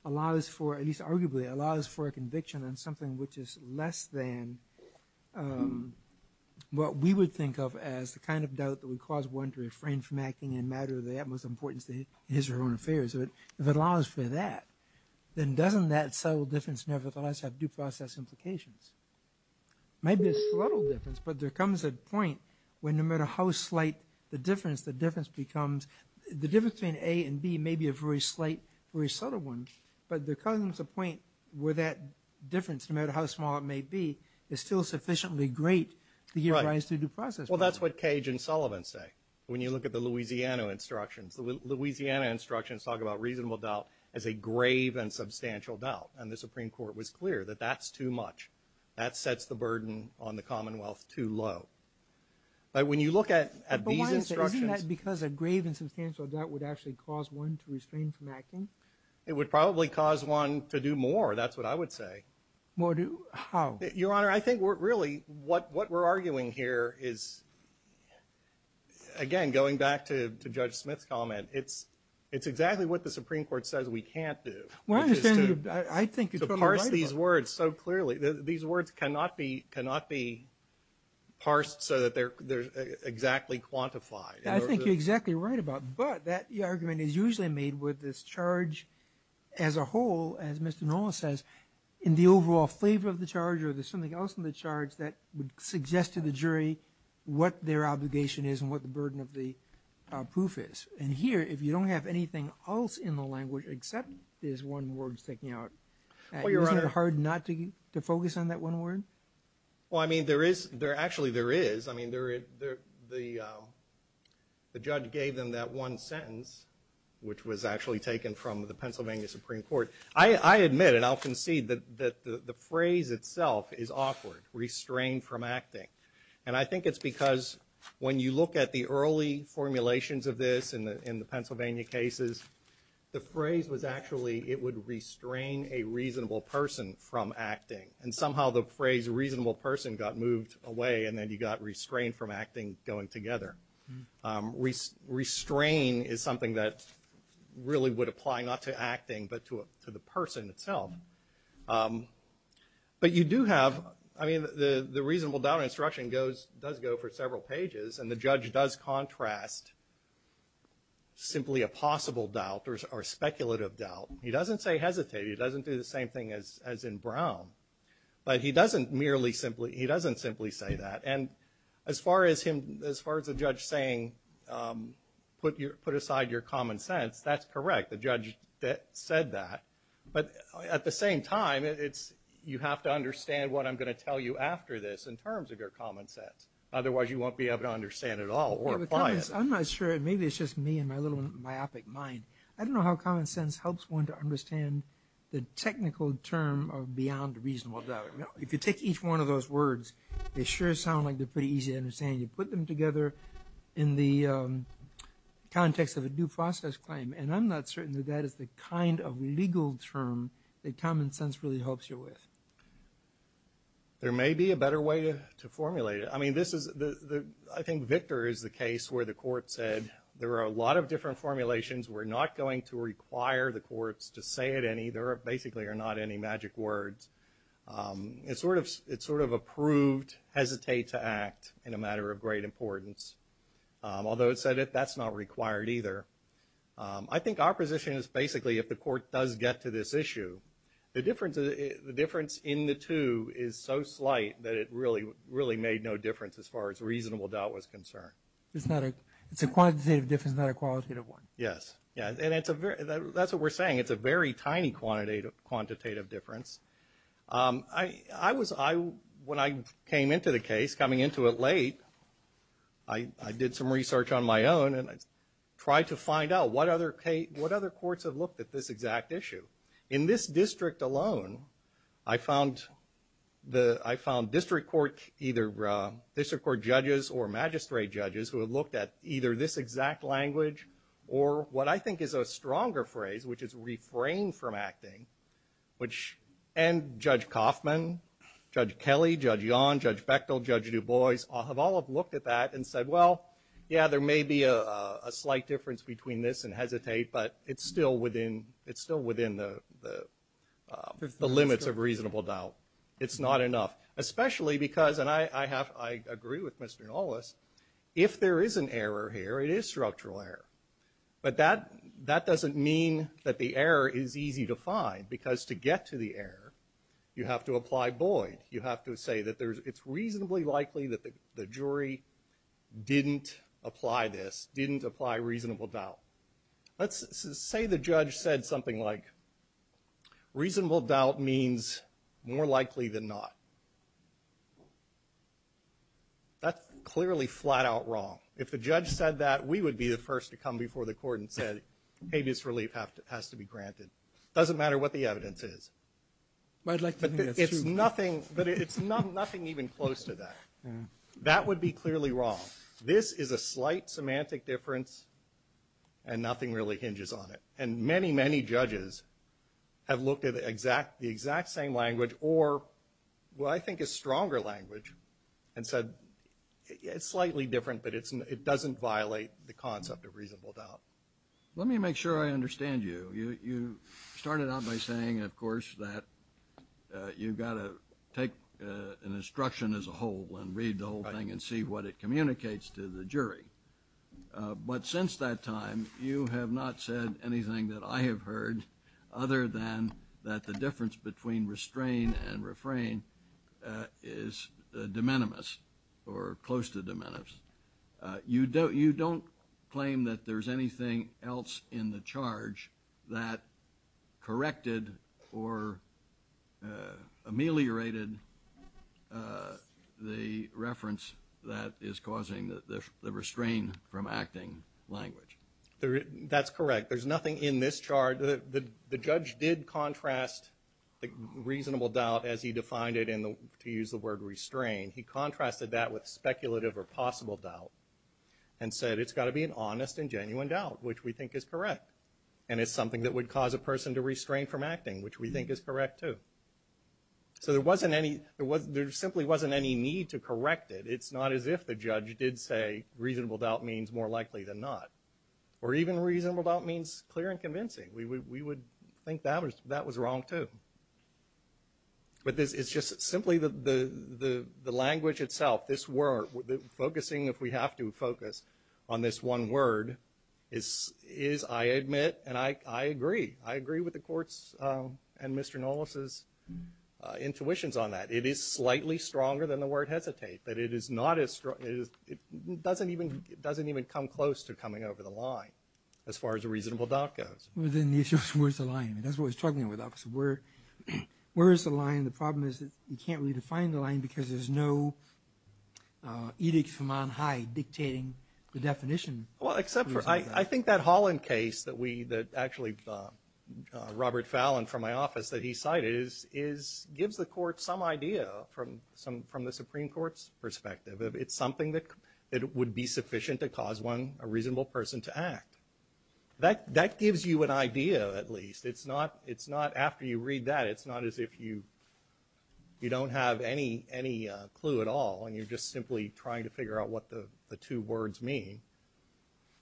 allows for, at least arguably, allows for a conviction on something which is less than what we would think of as the kind of doubt that would cause one to refrain from acting in a matter of the utmost importance to his or her own affairs, if it allows for that, then doesn't that subtle difference nevertheless have due process implications? Maybe it's a subtle difference, but there comes a point when no matter how slight the difference becomes, the difference between A and B may be a very slight, very subtle one, but there comes a point where that difference, no matter how small it may be, is still sufficiently great to give rise to due process. Well, that's what Cage and Sullivan say when you look at the Louisiana instructions. The Louisiana instructions talk about reasonable doubt as a grave and substantial doubt, and the Supreme Court was clear that that's too much. That sets the burden on the Commonwealth too low. But when you look at these instructions… But why is it that because of grave and substantial doubt would actually cause one to refrain from acting? It would probably cause one to do more. That's what I would say. More do how? Your Honor, I think really what we're arguing here is, again, going back to Judge Smith's comment, it's exactly what the Supreme Court says we can't do. Well, I understand. To parse these words so clearly. These words cannot be parsed so that they're exactly quantified. I think you're exactly right about that. That argument is usually made with this charge as a whole, as Mr. Norris says, in the overall flavor of the charge or there's something else in the charge that would suggest to the jury what their obligation is and what the burden of the proof is. And here, if you don't have anything else in the language except this one word sticking out, isn't it hard not to focus on that one word? Well, I mean, actually there is. I mean, the judge gave them that one sentence, which was actually taken from the Pennsylvania Supreme Court. I admit and I'll concede that the phrase itself is awkward, restrain from acting. And I think it's because when you look at the early formulations of this in the Pennsylvania cases, the phrase was actually it would restrain a reasonable person from acting. And somehow the phrase reasonable person got moved away and then you got restrain from acting going together. Restrain is something that really would apply not to acting but to the person itself. But you do have, I mean, the reasonable doubt instruction does go for several pages and the judge does contrast simply a possible doubt or speculative doubt. He doesn't say hesitate. He doesn't do the same thing as in Brown. But he doesn't merely simply – he doesn't simply say that. And as far as the judge saying put aside your common sense, that's correct. The judge said that. But at the same time, you have to understand what I'm going to tell you after this in terms of your common sense. Otherwise, you won't be able to understand it all or apply it. I'm not sure. Maybe it's just me and my little myopic mind. I don't know how common sense helps one to understand the technical term of beyond reasonable doubt. If you take each one of those words, they sure sound like they're pretty easy to understand. You put them together in the context of a due process claim. And I'm not certain that that is the kind of legal term that common sense really helps you with. There may be a better way to formulate it. I think Victor is the case where the court said there are a lot of different formulations. We're not going to require the courts to say it any. There basically are not any magic words. It sort of approved hesitate to act in a matter of great importance, although it said that that's not required either. I think our position is basically if the court does get to this issue, the difference in the two is so slight that it really made no difference as far as reasonable doubt was concerned. It's a quantitative difference, not a qualitative one. Yes, and that's what we're saying. It's a very tiny quantitative difference. When I came into the case, coming into it late, I did some research on my own and tried to find out what other courts have looked at this exact issue. In this district alone, I found district court judges or magistrate judges who have looked at either this exact language or what I think is a stronger phrase, which is refrain from acting, and Judge Coffman, Judge Kelly, Judge Yon, Judge Bechtel, Judge DuBois have all looked at that and said, well, yeah, there may be a slight difference between this and hesitate, but it's still within the limits of reasonable doubt. It's not enough, especially because, and I agree with Mr. Nollis, if there is an error here, it is structural error. But that doesn't mean that the error is easy to find because to get to the error, you have to apply Boyd. You have to say that it's reasonably likely that the jury didn't apply this, didn't apply reasonable doubt. Let's say the judge said something like reasonable doubt means more likely than not. That's clearly flat-out wrong. If the judge said that, we would be the first to come before the court and say, hey, this relief has to be granted. It doesn't matter what the evidence is. But it's nothing even close to that. That would be clearly wrong. This is a slight semantic difference and nothing really hinges on it. And many, many judges have looked at the exact same language or what I think is stronger language and said it's slightly different but it doesn't violate the concept of reasonable doubt. Let me make sure I understand you. You started out by saying, of course, that you've got to take an instruction as a whole and read the whole thing and see what it communicates to the jury. But since that time, you have not said anything that I have heard other than that the difference between restrain and refrain is de minimis or close to de minimis. You don't claim that there's anything else in the charge that corrected or ameliorated the reference that is causing the restrain from acting language. That's correct. There's nothing in this charge. The judge did contrast reasonable doubt as he defined it to use the word restrain. He contrasted that with speculative or possible doubt and said it's got to be an honest and genuine doubt, which we think is correct, and it's something that would cause a person to restrain from acting, which we think is correct, too. So there simply wasn't any need to correct it. It's not as if the judge did say reasonable doubt means more likely than not, or even reasonable doubt means clear and convincing. We would think that was wrong, too. But it's just simply the language itself, this word, focusing if we have to focus on this one word is, I admit, and I agree, I agree with the court's and Mr. Nolis' intuitions on that. It is slightly stronger than the word hesitate. It doesn't even come close to coming over the line as far as a reasonable doubt goes. Well, then the issue is where's the line? That's what I was talking about. Where is the line? The problem is you can't really define the line because there's no edict from on high dictating the definition. Well, except for I think that Holland case that actually Robert Fallon from my office that he cited gives the court some idea from the Supreme Court's perspective. It's something that would be sufficient to cause a reasonable person to act. That gives you an idea at least. It's not after you read that it's not as if you don't have any clue at all and you're just simply trying to figure out what the two words mean.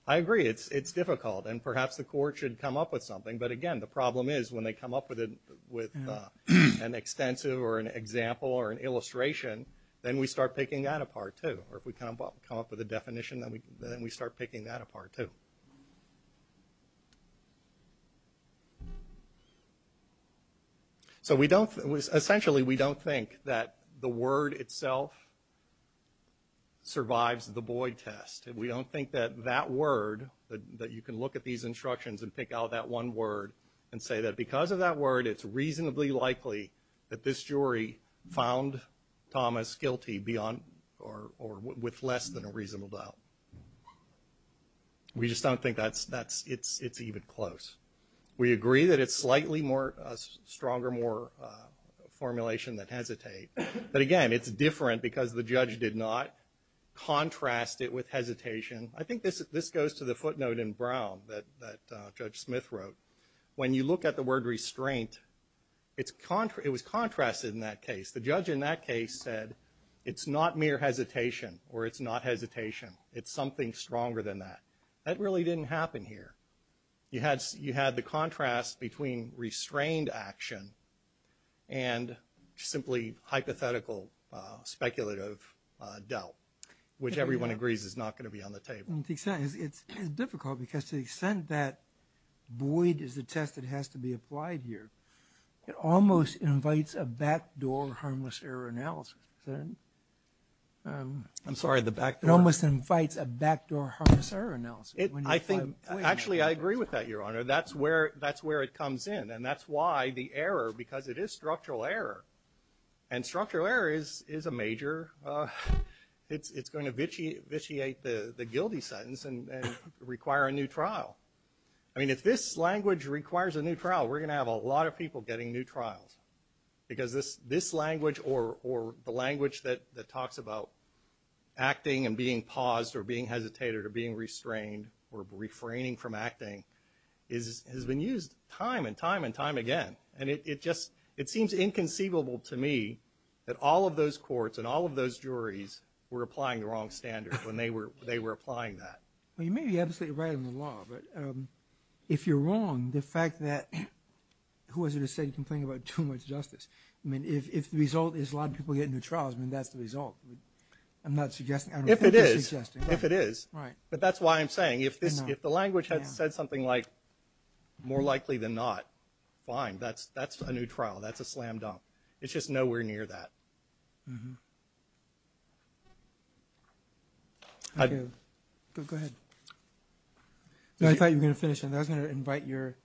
I agree, it's difficult, and perhaps the court should come up with something. But, again, the problem is when they come up with an extensive or an example or an illustration, then we start picking that apart, too. Essentially, we don't think that the word itself survives the Boyd test. We don't think that that word, that you can look at these instructions and pick out that one word and say that because of that word, it's reasonably likely that this jury found Thomas guilty beyond or more than that. With less than a reasonable doubt. We just don't think it's even close. We agree that it's slightly stronger formulation than hesitate. But, again, it's different because the judge did not contrast it with hesitation. I think this goes to the footnote in Brown that Judge Smith wrote. When you look at the word restraint, it was contrasted in that case. The judge in that case said it's not mere hesitation or it's not hesitation. It's something stronger than that. That really didn't happen here. You had the contrast between restrained action and simply hypothetical speculative doubt, which everyone agrees is not going to be on the table. It's difficult because to the extent that Boyd is the test that has to be applied here, it almost invites a backdoor harmless error analysis. I'm sorry, the backdoor? It almost invites a backdoor harmless error analysis. Actually, I agree with that, Your Honor. That's where it comes in. And that's why the error, because it is structural error. And structural error is a major, it's going to vitiate the guilty sentence and require a new trial. I mean, if this language requires a new trial, we're going to have a lot of people getting new trials. Because this language or the language that talks about acting and being paused or being hesitated or being restrained or refraining from acting has been used time and time and time again. And it seems inconceivable to me that all of those courts and all of those juries were applying the wrong standards when they were applying that. Well, you may be absolutely right on the law, but if you're wrong, the fact that, who was it that said he complained about too much justice? I mean, if the result is a lot of people get new trials, then that's the result. I'm not suggesting. If it is, if it is. But that's why I'm saying if the language had said something like more likely than not, fine. That's a new trial. That's a slam dunk. It's just nowhere near that. Mm-hmm. Go ahead. I thought you were going to finish, and I was going to invite your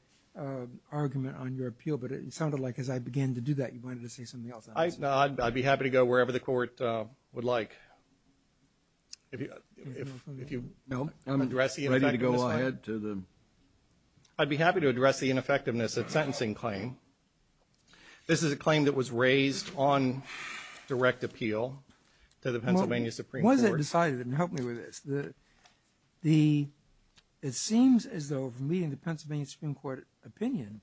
argument on your appeal, but it sounded like as I began to do that, you wanted to say something else. No, I'd be happy to go wherever the court would like. If you don't want to address the ineffectiveness, go ahead. I'd be happy to address the ineffectiveness of the sentencing claim. This is a claim that was raised on direct appeal to the Pennsylvania Supreme Court. Well, what is it decided? Help me with this. It seems as though, from reading the Pennsylvania Supreme Court opinion,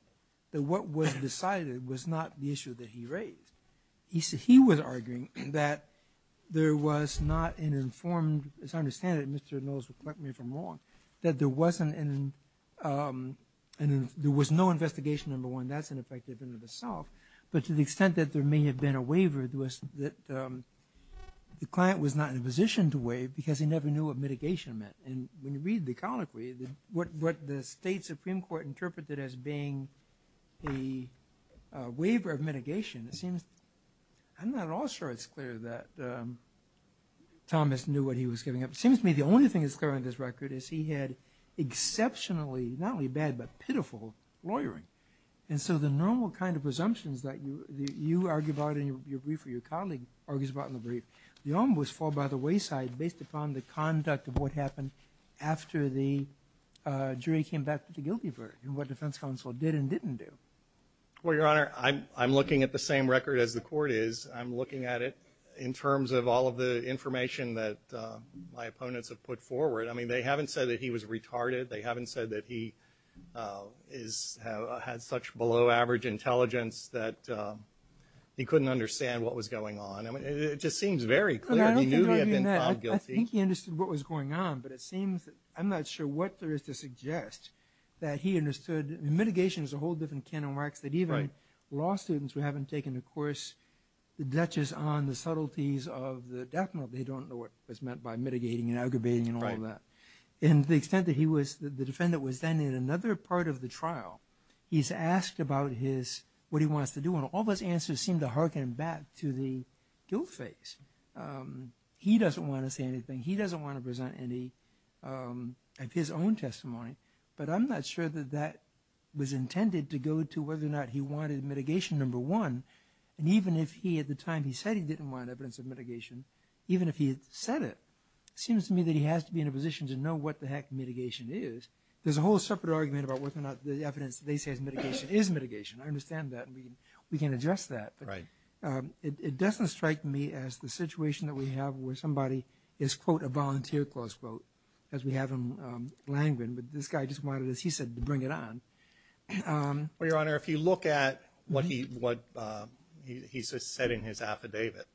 that what was decided was not the issue that he raised. He was arguing that there was not an informed, as I understand it, Mr. Mills will correct me if I'm wrong, that there was no investigation, number one. That's ineffective in and of itself. But to the extent that there may have been a waiver, the client was not in a position to waive because he never knew what mitigation meant. When you read the colloquy, what the state Supreme Court interpreted as being a waiver of mitigation, I'm not at all sure it's clear that Thomas knew what he was giving up. It seems to me the only thing that's clear on this record is he had exceptionally, not only bad, but pitiful lawyering. And so the normal kind of presumptions that you argue about in your brief or your colleague argues about in the brief, they almost fall by the wayside based upon the conduct of what happened after the jury came back to the guilty verdict and what the defense counsel did and didn't do. Well, Your Honor, I'm looking at the same record as the court is. I'm looking at it in terms of all of the information that my opponents have put forward. I mean, they haven't said that he was retarded. They haven't said that he had such below-average intelligence that he couldn't understand what was going on. It just seems very clear that he knew he had been found guilty. I think he understood what was going on, but it seems I'm not sure what there is to suggest that he understood Mitigation is a whole different kind of mark that even law students who haven't taken a course that touches on the subtleties of the death note, they don't know what was meant by mitigating and aggravating and all of that. And to the extent that the defendant was then in another part of the trial, he's asked about what he wants to do, and all those answers seem to harken back to the guilt phase. He doesn't want to say anything. He doesn't want to present any of his own testimony. But I'm not sure that that was intended to go to whether or not he wanted Mitigation, number one. And even if at the time he said he didn't want evidence of Mitigation, even if he said it, it seems to me that he has to be in a position to know what the heck Mitigation is. There's a whole separate argument about whether or not the evidence they say is Mitigation. I understand that, and we can address that. But it doesn't strike me as the situation that we have where somebody is, quote, a volunteer, close quote, because we have him languishing. But this guy just wanted, as he said, to bring it on. Well, Your Honor, if you look at what he said in his affidavit,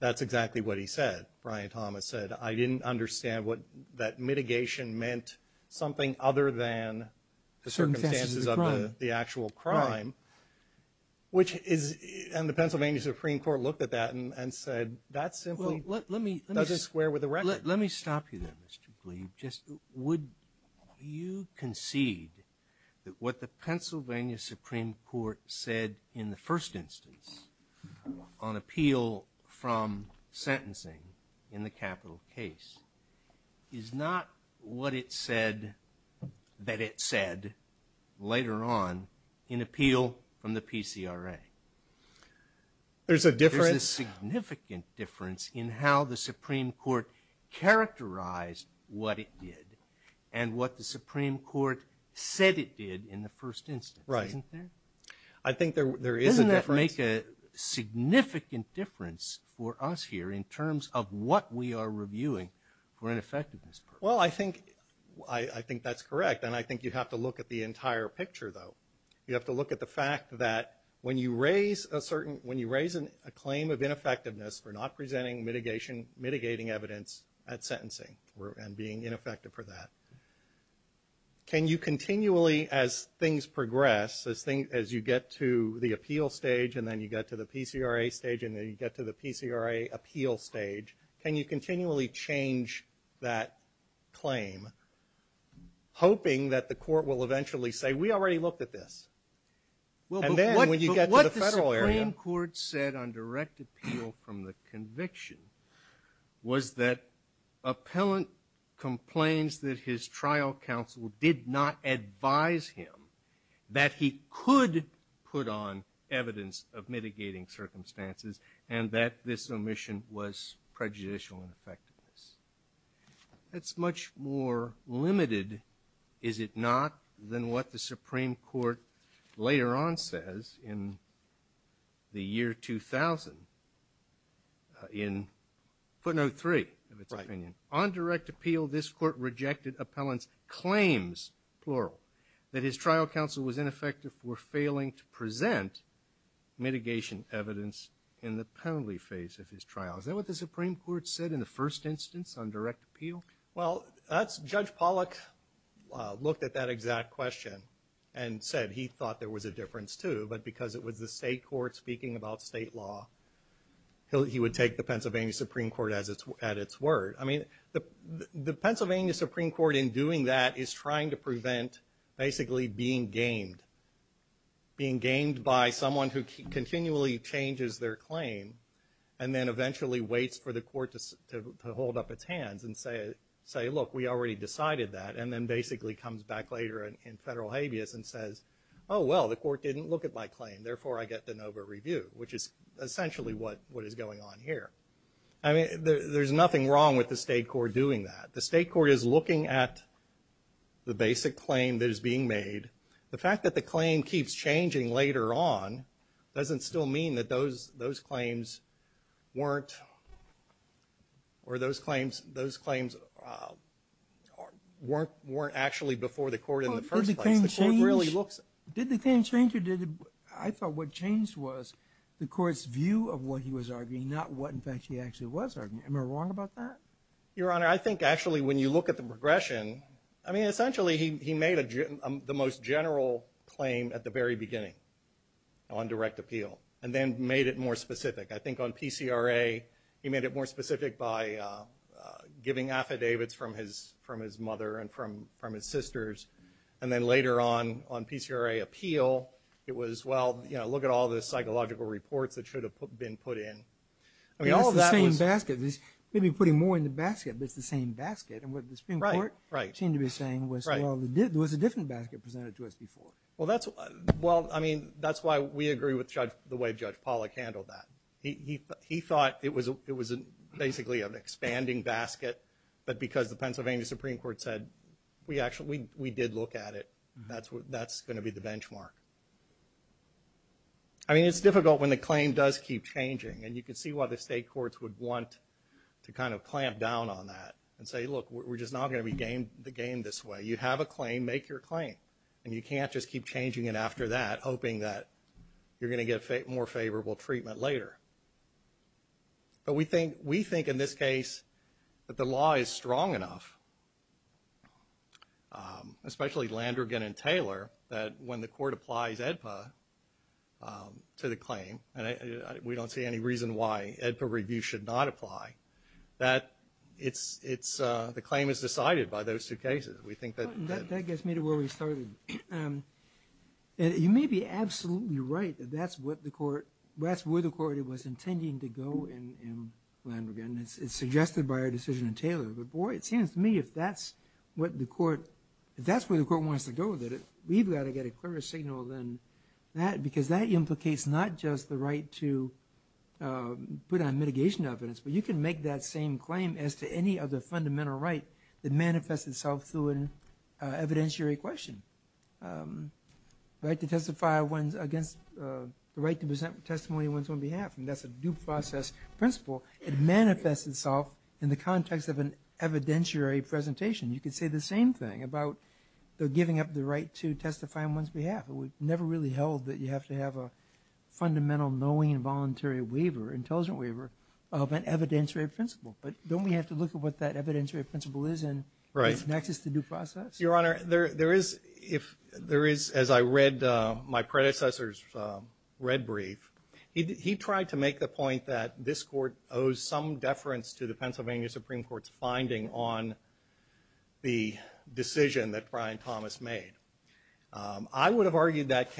that's exactly what he said. Brian Thomas said, I didn't understand what that Mitigation meant, something other than the circumstances of the actual crime. And the Pennsylvania Supreme Court looked at that and said, that simply doesn't square with the record. Let me stop you there, Mr. Gleeve. Would you concede that what the Pennsylvania Supreme Court said in the first instance on appeal from sentencing in the capital case is not what it said that it said later on in appeal from the PCRA? There's a difference. There's a significant difference in how the Supreme Court characterized what it did and what the Supreme Court said it did in the first instance. Right. Isn't there? I think there is a difference. Doesn't that make a significant difference for us here in terms of what we are reviewing for an effectiveness? Well, I think that's correct, and I think you'd have to look at the entire picture, though. You have to look at the fact that when you raise a claim of ineffectiveness for not presenting mitigating evidence at sentencing and being ineffective for that, can you continually, as things progress, as you get to the appeal stage and then you get to the PCRA stage and then you get to the PCRA appeal stage, can you continually change that claim, hoping that the court will eventually say, we already looked at this, and then when you get to the federal area. What the Supreme Court said on direct appeal from the conviction was that appellant complains that his trial counsel did not advise him that he could put on evidence of mitigating circumstances and that this omission was prejudicial in effectiveness. That's much more limited, is it not, than what the Supreme Court later on says in the year 2000 in footnote 3 of its opinion. On direct appeal, this court rejected appellant's claims, plural, that his trial counsel was ineffective for failing to present mitigation evidence in the penalty phase of his trial. Is that what the Supreme Court said in the first instance on direct appeal? Well, Judge Pollack looked at that exact question and said he thought there was a difference, too, but because it was the state court speaking about state law, he would take the Pennsylvania Supreme Court at its word. I mean, the Pennsylvania Supreme Court in doing that is trying to prevent, basically, being gamed, being gamed by someone who continually changes their claim and then eventually waits for the court to hold up its hands and say, look, we already decided that, and then basically comes back later in federal habeas and says, oh, well, the court didn't look at my claim, therefore I get the NOVA review, which is essentially what is going on here. I mean, there's nothing wrong with the state court doing that. The state court is looking at the basic claim that is being made. The fact that the claim keeps changing later on doesn't still mean that those claims weren't actually before the court in the first place. Did the claim change? I thought what changed was the court's view of what he was arguing, not what in fact he actually was arguing. Am I wrong about that? Your Honor, I think actually when you look at the progression, I mean, essentially he made the most general claim at the very beginning on direct appeal, and then made it more specific. I think on PCRA he made it more specific by giving affidavits from his mother and from his sisters, and then later on, on PCRA appeal, it was, well, look at all this psychological report that should have been put in. I mean, all of that was – Maybe putting more in the basket than the same basket, and what the Supreme Court seemed to be saying was, well, there was a different basket presented to us before. Well, I mean, that's why we agree with the way Judge Pollack handled that. He thought it was basically an expanding basket, but because the Pennsylvania Supreme Court said we did look at it, that's going to be the benchmark. I mean, it's difficult when a claim does keep changing, and you can see why the state courts would want to kind of clamp down on that and say, look, we're just not going to be the game this way. You have a claim, make your claim, and you can't just keep changing it after that, hoping that you're going to get more favorable treatment later. But we think in this case that the law is strong enough, especially Landrigan and Taylor, that when the court applies AEDPA to the claim, we don't see any reason why AEDPA review should not apply, that the claim is decided by those two cases. That gets me to where we started. You may be absolutely right that that's where the court was intending to go in Landrigan. It's suggested by our decision in Taylor, but boy, it seems to me if that's where the court wants to go with it, we've got to get a clearer signal than that, because that implicates not just the right to put on mitigation evidence, but you can make that same claim as to any other fundamental right that manifests itself through an evidentiary question. The right to present testimony on one's own behalf, and that's a due process principle, it manifests itself in the context of an evidentiary presentation. You could say the same thing about giving up the right to testify on one's behalf. It was never really held that you have to have a fundamental knowing and voluntary waiver, intelligent waiver, of an evidentiary principle. But don't we have to look at what that evidentiary principle is and what connects us to due process? Your Honor, there is, as I read my predecessor's red brief, he tried to make the point that this court owes some deference to the Pennsylvania Supreme Court's finding on the decision that Brian Thomas made. I would have argued that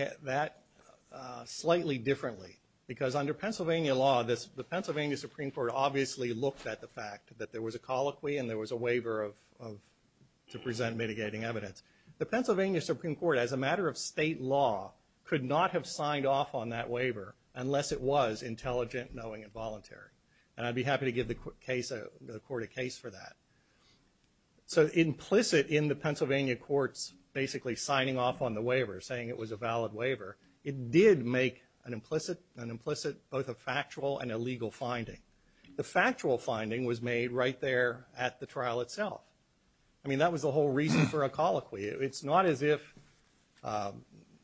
slightly differently, because under Pennsylvania law the Pennsylvania Supreme Court obviously looked at the fact that there was a colloquy and there was a waiver to present mitigating evidence. The Pennsylvania Supreme Court, as a matter of state law, could not have signed off on that waiver unless it was intelligent, knowing, and voluntary. And I'd be happy to give the court a case for that. So implicit in the Pennsylvania Court's basically signing off on the waiver, saying it was a valid waiver, it did make an implicit both a factual and a legal finding. The factual finding was made right there at the trial itself. I mean, that was the whole reason for a colloquy. It's not as if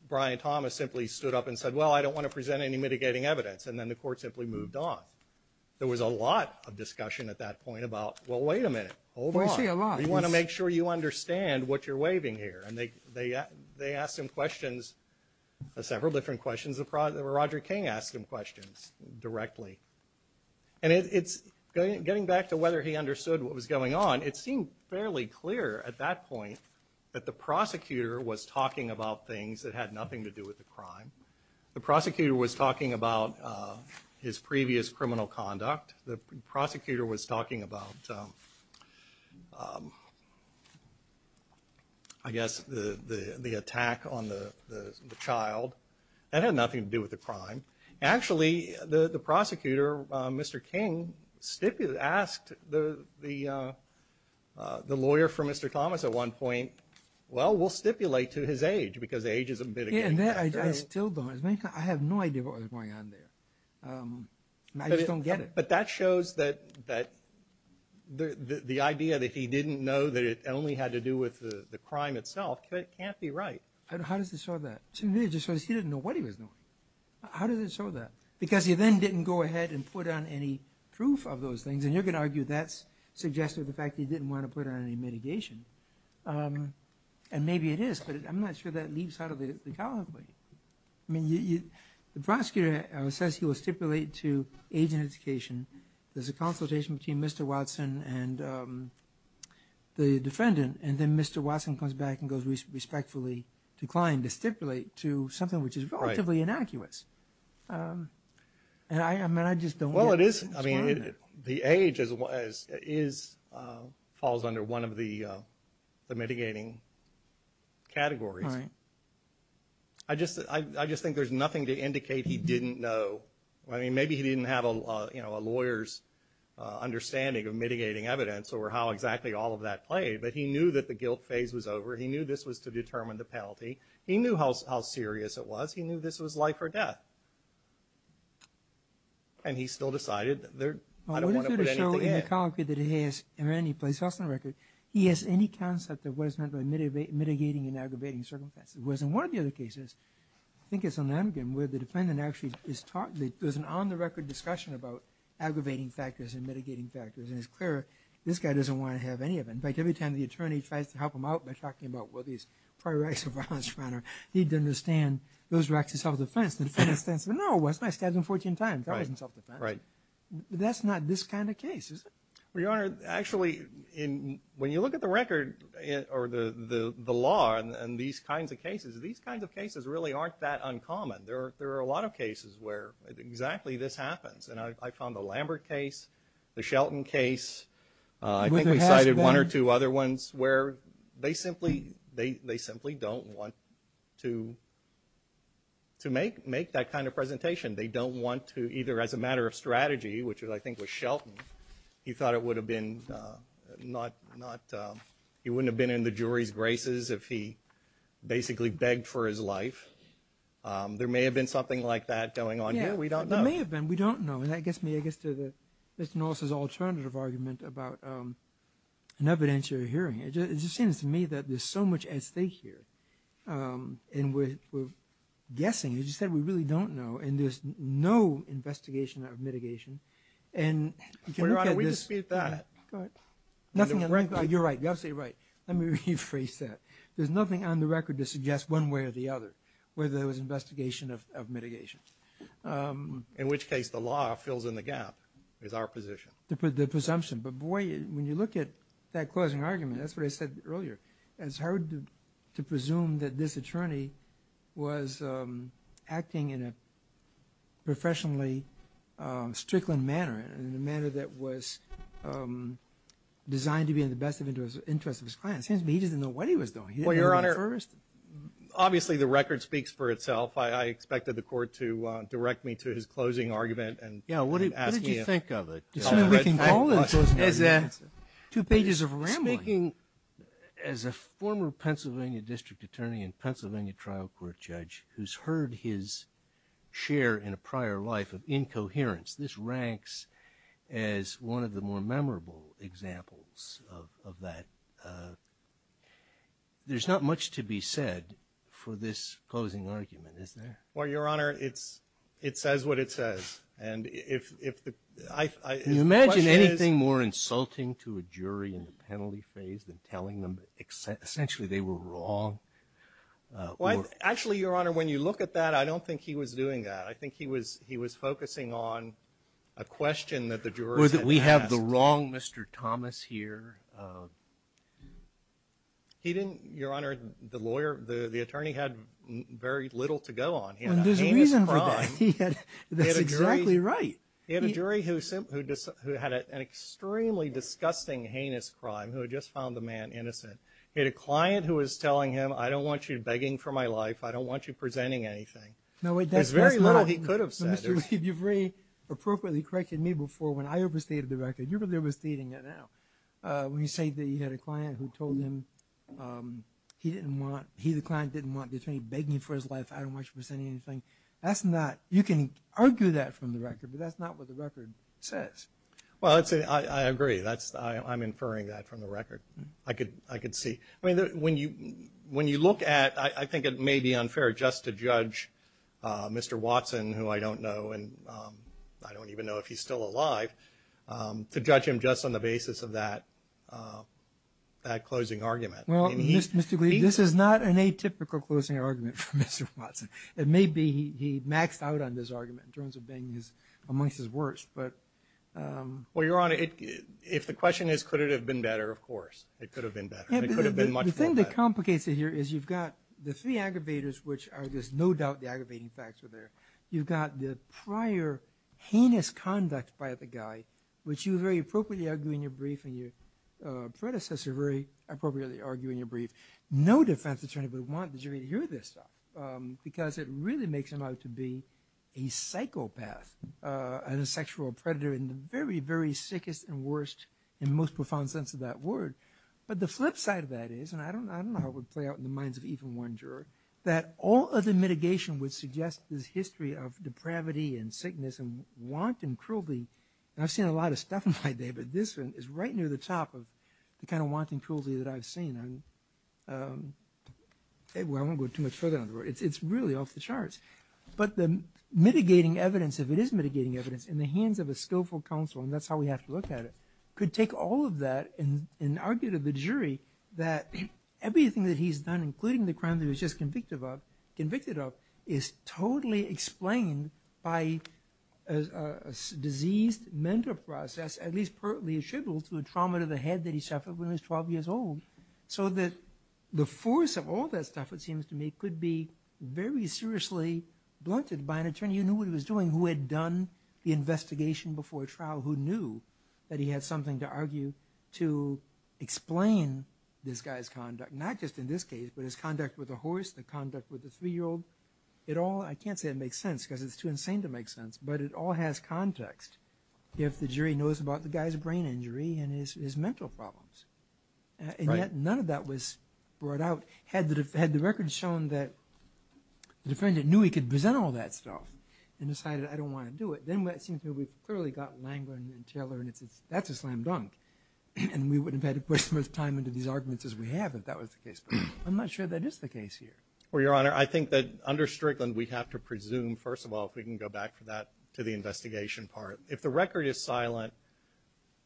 Brian Thomas simply stood up and said, well, I don't want to present any mitigating evidence, and then the court simply moved on. There was a lot of discussion at that point about, well, wait a minute, hold on. We want to make sure you understand what you're waiving here. And they asked him questions, several different questions. Roger King asked him questions directly. And getting back to whether he understood what was going on, it seemed fairly clear at that point that the prosecutor was talking about things that had nothing to do with the crime. The prosecutor was talking about his previous criminal conduct. The prosecutor was talking about, I guess, the attack on the child. That had nothing to do with the crime. Actually, the prosecutor, Mr. King, asked the lawyer for Mr. Thomas at one point, well, we'll stipulate to his age because age is a mitigating factor. I have no idea what was going on there. I just don't get it. But that shows that the idea that he didn't know that it only had to do with the crime itself can't be right. How does it show that? He didn't know what he was doing. How does it show that? Because he then didn't go ahead and put on any proof of those things, and you can argue that's suggesting the fact that he didn't want to put on any mitigation. And maybe it is, but I'm not sure that leaves out of it at all. I mean, the prosecutor says he will stipulate to age and education. There's a consultation between Mr. Watson and the defendant, and then Mr. Watson comes back and goes respectfully to the client to stipulate to something which is relatively innocuous. Well, it is. The age falls under one of the mitigating categories. I just think there's nothing to indicate he didn't know. I mean, maybe he didn't have a lawyer's understanding of mitigating evidence or how exactly all of that played, but he knew that the guilt phase was over. He knew this was to determine the penalty. He knew how serious it was. He knew this was life or death. And he still decided, I don't want to put anything in. Well, I'm just going to show in the colloquy that he has in any place else on the record, he has any concept of what is meant by mitigating and aggravating certain offenses. Whereas in one of the other cases, I think it's on the amulet, where the defendant actually is taught that there's an on-the-record discussion about aggravating factors and mitigating factors, and his clerk, this guy doesn't want to have any of them. In fact, every time the attorney tries to help him out by talking about, well, these prior acts of violence, he didn't understand those acts of self-defense. He understands, well, no, well, this guy's done it 14 times. I didn't suffer that. That's not this kind of case, is it? Your Honor, actually, when you look at the record or the law and these kinds of cases, these kinds of cases really aren't that uncommon. There are a lot of cases where exactly this happens, and I found the Lambert case, the Shelton case. I think we cited one or two other ones where they simply don't want to make that kind of presentation. They don't want to either, as a matter of strategy, which I think was Shelton, he thought it would have been not he wouldn't have been in the jury's graces if he basically begged for his life. There may have been something like that going on here. We don't know. There may have been. We don't know. That gets me, I guess, to Mr. Norris' alternative argument about an evidentiary hearing. It just seems to me that there's so much at stake here, and we're guessing, as you said, we really don't know, and there's no investigation of mitigation. Your Honor, we dispute that. You're right. Yes, you're right. Let me rephrase that. There's nothing on the record that suggests one way or the other, whether there was investigation of mitigation. In which case, the law fills in the gap is our position. The presumption. But, boy, when you look at that closing argument, that's what I said earlier, it's hard to presume that this attorney was acting in a professionally strickling manner, in a manner that was designed to be in the best interest of his client. It seems to me he didn't know what he was doing. Well, Your Honor, obviously the record speaks for itself. I expected the court to direct me to his closing argument. Yeah, what did you think of it? There's something we can call into it. It's two pages of a rambling. Speaking as a former Pennsylvania district attorney and Pennsylvania trial court judge who's heard his share in a prior life of incoherence, this ranks as one of the more memorable examples of that. There's not much to be said for this closing argument. Well, Your Honor, it says what it says. Can you imagine anything more insulting to a jury in the penalty phase than telling them essentially they were wrong? Actually, Your Honor, when you look at that, I don't think he was doing that. I think he was focusing on a question that the jury had. We have the wrong Mr. Thomas here. He didn't, Your Honor, the attorney had very little to go on. He had a heinous crime. That's exactly right. He had a jury who had an extremely disgusting heinous crime who had just found the man innocent. He had a client who was telling him, I don't want you begging for my life. I don't want you presenting anything. There's very little he could have said. You've very appropriately corrected me before when I overstated the record. You're really overstating it now. When you say that you had a client who told him he didn't want, he, the client, didn't want the attorney begging for his life, I don't want you presenting anything, that's not, you can argue that from the record, but that's not what the record says. Well, I agree. I'm inferring that from the record. I can see. When you look at, I think it may be unfair just to judge Mr. Watson, who I don't know, and I don't even know if he's still alive, to judge him just on the basis of that closing argument. Well, Mr. Green, this is not an atypical closing argument for Mr. Watson. It may be he maxed out on this argument in terms of being amongst his worst. Well, Your Honor, if the question is could it have been better, of course. It could have been better. The thing that complicates it here is you've got the three aggravators, which are just no doubt the aggravating factor there. You've got the prior heinous conduct by the guy, which you very appropriately argue in your brief, and your predecessor very appropriately argue in your brief. No defense attorney would want the jury to hear this stuff, because it really makes him out to be a psychopath, and a sexual predator in the very, very sickest and worst and most profound sense of that word. But the flip side of that is, and I don't know how it would play out in the minds of even one juror, that all other mitigation would suggest this history of depravity and sickness and wanton cruelty. I've seen a lot of stuff in my day, but this is right near the top of the kind of wanton cruelty that I've seen. I won't go too much further on the road. It's really off the charts. But the mitigating evidence, if it is mitigating evidence, in the hands of a skillful counsel, and that's how we have to look at it, could take all of that and argue to the jury that everything that he's done, including the crime that he was just convicted of, is totally explained by a diseased mental process, at least per the schedule to the trauma to the head that he suffered when he was 12 years old. So that the force of all that stuff, it seems to me, could be very seriously blunted by an attorney who knew what he was doing, who had done the investigation before trial, who knew that he had something to argue to explain this guy's conduct, not just in this case, but his conduct with the horse, the conduct with the three-year-old. I can't say it makes sense because it's too insane to make sense, but it all has context if the jury knows about the guy's brain injury and his mental problems. And yet none of that was brought out. Had the record shown that the defendant knew he could present all that stuff and decided, I don't want to do it, then it seems that we've clearly got Langland and Teller, and that's a slam dunk. And we wouldn't have had as much time into these arguments as we have if that was the case. But I'm not sure that is the case here. Well, Your Honor, I think that under Strickland we have to presume, first of all, if we can go back to that, to the investigation part. If the record is silent,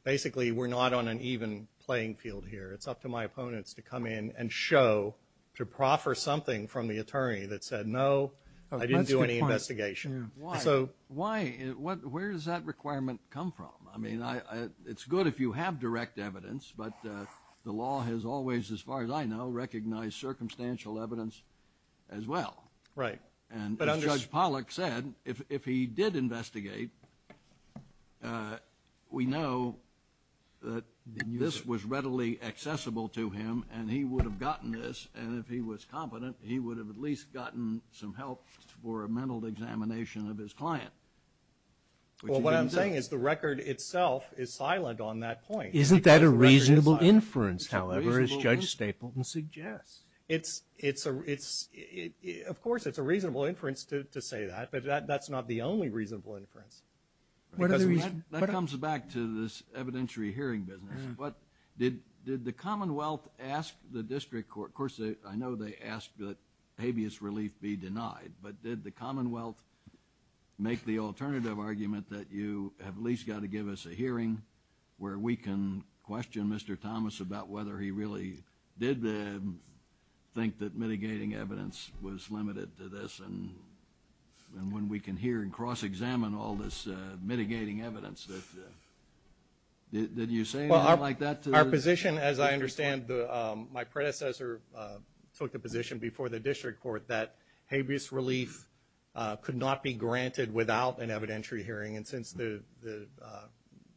basically we're not on an even playing field here. It's up to my opponents to come in and show, to proffer something from the attorney that said, no, I didn't do any investigation. Why? Where does that requirement come from? I mean, it's good if you have direct evidence, but the law has always, as far as I know, recognized circumstantial evidence as well. Right. And Judge Pollack said if he did investigate, we know that this was readily accessible to him and he would have gotten this, and if he was confident, he would have at least gotten some help for a mental examination of his client. Well, what I'm saying is the record itself is silent on that point. Isn't that a reasonable inference, however, as Judge Stapleton suggests? Of course, it's a reasonable inference to say that, but that's not the only reasonable inference. That comes back to this evidentiary hearing business. Did the Commonwealth ask the district court, and, of course, I know they asked that habeas relief be denied, but did the Commonwealth make the alternative argument that you at least got to give us a hearing where we can question Mr. Thomas about whether he really did think that mitigating evidence was limited to this and when we can hear and cross-examine all this mitigating evidence? Did you say anything like that? Our position, as I understand, my predecessor took the position before the district court that habeas relief could not be granted without an evidentiary hearing, and since the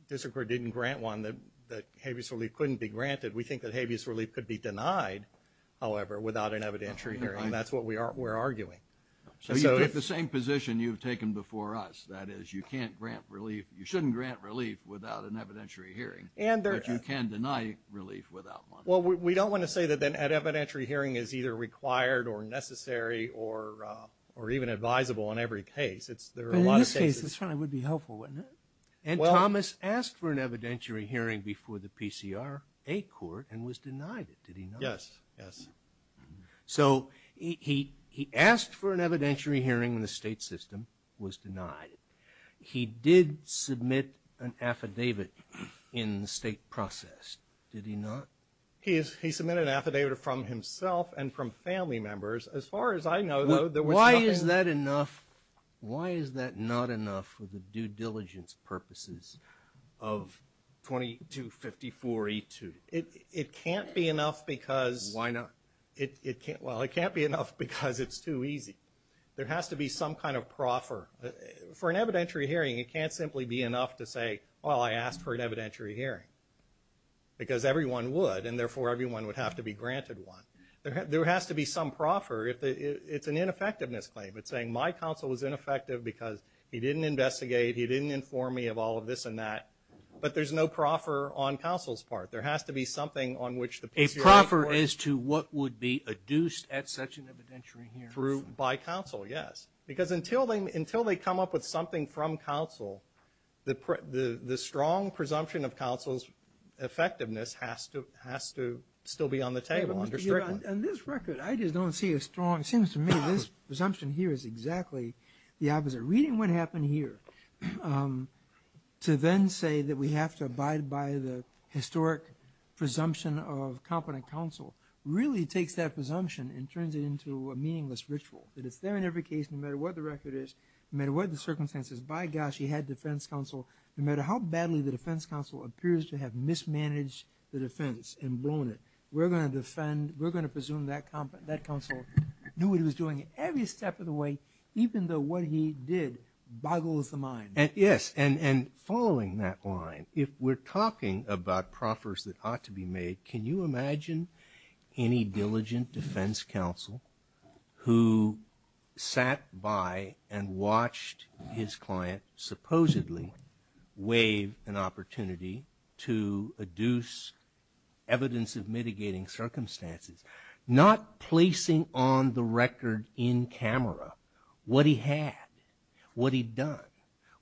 district court didn't grant one, that habeas relief couldn't be granted. We think that habeas relief could be denied, however, without an evidentiary hearing, and that's what we're arguing. So you get the same position you've taken before us, that is, you can't grant relief, you shouldn't grant relief without an evidentiary hearing, but you can deny relief without one. Well, we don't want to say that an evidentiary hearing is either required or necessary or even advisable in every case. In this case, it would be helpful, wouldn't it? And Thomas asked for an evidentiary hearing before the PCR-A court and was denied it, did he not? Yes. So he asked for an evidentiary hearing in the state system and was denied it. He did submit an affidavit in the state process, did he not? He submitted an affidavit from himself and from family members. As far as I know, though, there was nothing. Why is that not enough for the due diligence purposes of 2254E2? It can't be enough because it's too easy. There has to be some kind of proffer. For an evidentiary hearing, it can't simply be enough to say, well, I asked for an evidentiary hearing because everyone would and therefore everyone would have to be granted one. There has to be some proffer. It's an ineffectiveness claim. It's saying my counsel was ineffective because he didn't investigate, he didn't inform me of all of this and that. But there's no proffer on counsel's part. There has to be something on which the PCR-A court ---- A proffer as to what would be adduced at such an evidentiary hearing. By counsel, yes. Because until they come up with something from counsel, the strong presumption of counsel's effectiveness has to still be on the table. On this record, I just don't see a strong ---- It seems to me this presumption here is exactly the opposite. Reading what happened here, to then say that we have to abide by the historic presumption of competent counsel, really takes that presumption and turns it into a meaningless ritual. To defend every case no matter what the record is, no matter what the circumstances. By gosh, he had defense counsel. No matter how badly the defense counsel appears to have mismanaged the defense and blown it, we're going to defend, we're going to presume that counsel knew what he was doing every step of the way, even though what he did boggles the mind. Yes, and following that line, if we're talking about proffers that ought to be made, can you imagine any diligent defense counsel who sat by and watched his client supposedly waive an opportunity to adduce evidence of mitigating circumstances, not placing on the record in camera what he had, what he'd done,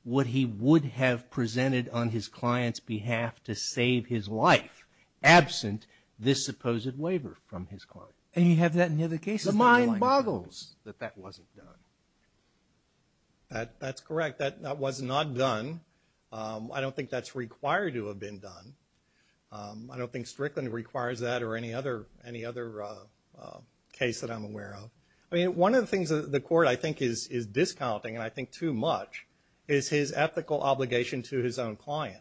what he would have presented on his client's behalf to save his life, absent this supposed waiver from his client? And you have that in the case. The mind boggles that that wasn't done. That's correct. That was not done. I don't think that's required to have been done. I don't think Strickland requires that or any other case that I'm aware of. I mean, one of the things the court, I think, is discounting, and I think too much, is his ethical obligation to his own client.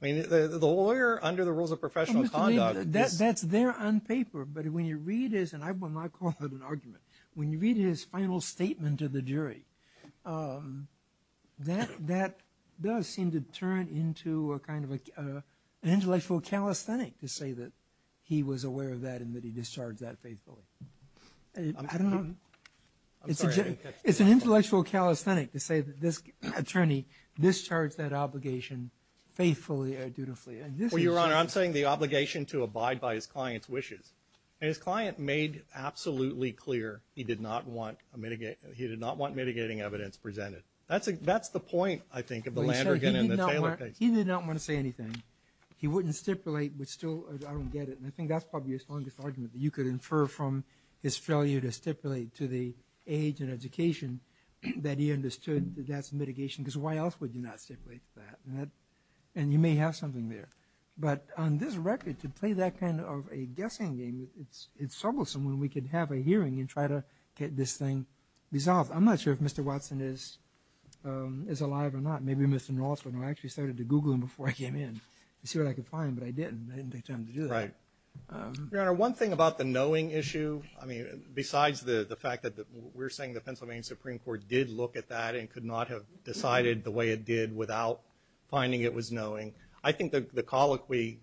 The lawyer under the rules of professional conduct. That's there on paper, but when you read his, and I will not call it an argument, when you read his final statement to the jury, that does seem to turn into a kind of an intellectual calisthenic to say that he was aware of that and that he discharged that faithful. I'm sorry. It's an intellectual calisthenic to say that this attorney discharged that obligation faithfully and dutifully. Well, Your Honor, I'm saying the obligation to abide by his client's wishes. His client made absolutely clear he did not want mitigating evidence presented. That's the point, I think, of the Landergan and the Taylor case. He did not want to say anything. He wouldn't stipulate. I don't get it, and I think that's probably his longest argument, that you could infer from Australia to stipulate to the age and education that he understood that that's mitigation. Because why else would you not stipulate that? And you may have something there. But on this record, to play that kind of a guessing game, it's troublesome when we could have a hearing and try to get this thing resolved. I'm not sure if Mr. Watson is alive or not. Maybe Mr. Northland. I actually started to Google him before I came in to see what I could find, but I didn't. I didn't have time to do that. Your Honor, one thing about the knowing issue, besides the fact that we're saying the Pennsylvania Supreme Court did look at that and could not have decided the way it did without finding it was knowing, I think the colloquy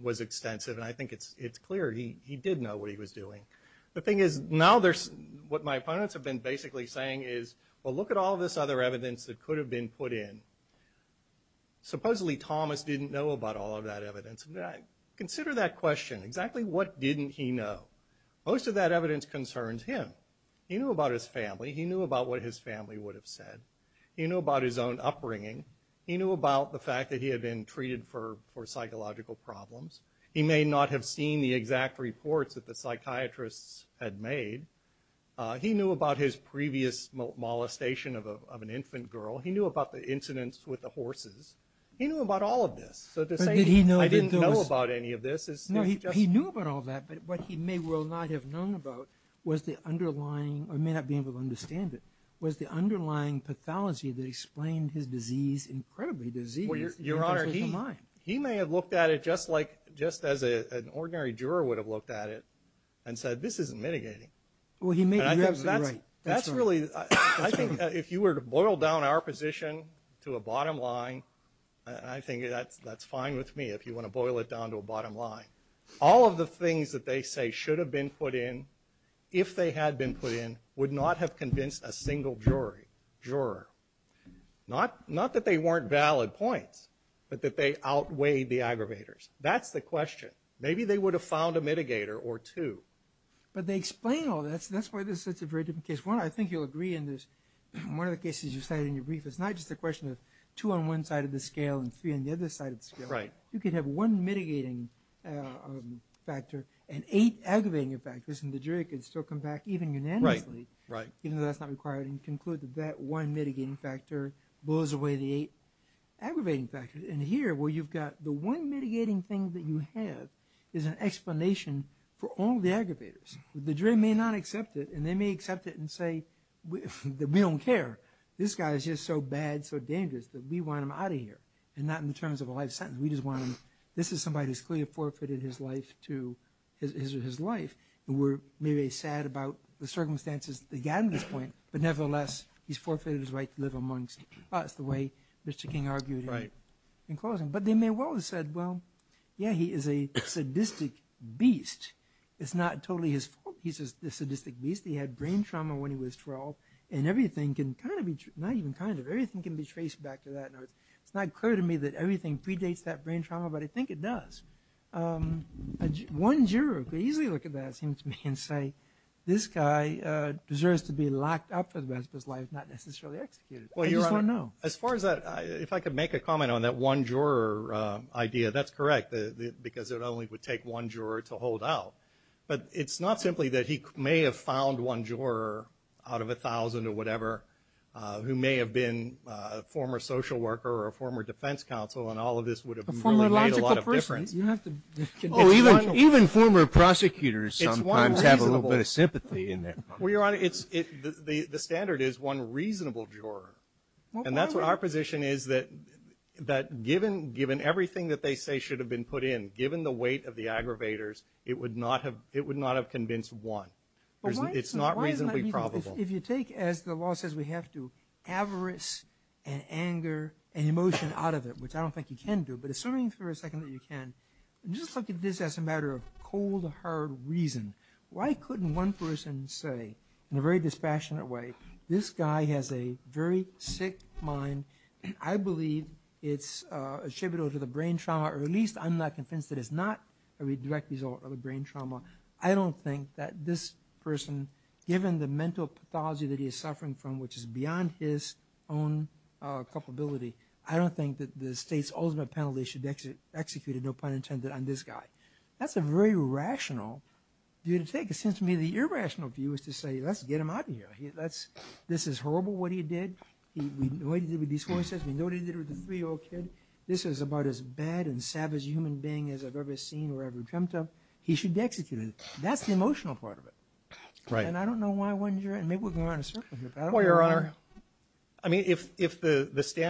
was extensive, and I think it's clear he did know what he was doing. The thing is, now what my opponents have been basically saying is, well, look at all this other evidence that could have been put in. Supposedly Thomas didn't know about all of that evidence. Consider that question. Exactly what didn't he know? Most of that evidence concerns him. He knew about his family. He knew about his own upbringing. He knew about the fact that he had been treated for psychological problems. He may not have seen the exact reports that the psychiatrists had made. He knew about his previous molestation of an infant girl. He knew about the incidents with the horses. He knew about all of this. I didn't know about any of this. He knew about all that, but what he may well not have known about was the underlying or may not be able to understand it was the underlying pathology that explained his disease incredibly. Your Honor, he may have looked at it just as an ordinary juror would have looked at it and said, this isn't mitigating. Well, he may be right. I think that if you were to boil down our position to a bottom line, I think that's fine with me if you want to boil it down to a bottom line. All of the things that they say should have been put in, if they had been put in, would not have convinced a single juror. Not that they weren't valid points, but that they outweighed the aggravators. That's the question. Maybe they would have found a mitigator or two. But they explain all that, so that's why this is a very different case. Your Honor, I think you'll agree in this, one of the cases you said in your brief, it's not just a question of two on one side of the scale and three on the other side of the scale. You could have one mitigating factor and eight aggravating factors, and the jury could still come back even unanimously, even though that's not required, and conclude that that one mitigating factor blows away the eight aggravating factors. And here, where you've got the one mitigating thing that you have is an explanation for all the aggravators. The jury may not accept it, and they may accept it and say, we don't care. This guy is just so bad, so dangerous that we want him out of here, and not in terms of a life sentence. We just want him. This is somebody who's clearly forfeited his life, and we're really sad about the circumstances that got him to this point, but nevertheless, he's forfeited his right to live amongst us, the way Mr. King argued in closing. But they may well have said, well, yeah, he is a sadistic beast. It's not totally his fault he's a sadistic beast. He had brain trauma when he was 12, and everything can kind of be, not even kind of, everything can be traced back to that. It's not clear to me that everything predates that brain trauma, but I think it does. One juror could easily look at that, it seems to me, and say this guy deserves to be locked up for the rest of his life, not necessarily executed. As far as that, if I could make a comment on that one juror idea, that's correct, because it only would take one juror to hold out. But it's not simply that he may have found one juror out of 1,000 or whatever who may have been a former social worker or a former defense counsel, and all of this would have made a lot of difference. Even former prosecutors sometimes have a little bit of sympathy in there. The standard is one reasonable juror, and that's what our position is, that given everything that they say should have been put in, given the weight of the aggravators, it would not have convinced one. It's not reasonably probable. If you take, as the law says we have to, avarice and anger and emotion out of it, which I don't think you can do, but assuming for a second that you can, just look at this as a matter of cold, hard reason. Why couldn't one person say in a very dispassionate way, this guy has a very sick mind, and I believe it's attributable to the brain trauma, or at least I'm not convinced that it's not a direct result of a brain trauma. I don't think that this person, given the mental pathology that he is suffering from, which is beyond his own culpability, I don't think that the state's ultimate penalty should be executed, no pun intended, on this guy. That's a very rational view to take. It seems to me the irrational view is to say, let's get him out of here. This is horrible what he did. We know what he did with these homicides. We know what he did with the three-year-old kid. This is about as bad and savage a human being as I've ever seen or ever dreamt of. He should be executed. That's the emotional part of it. And I don't know why it wasn't your end. Maybe we're going on a circle here.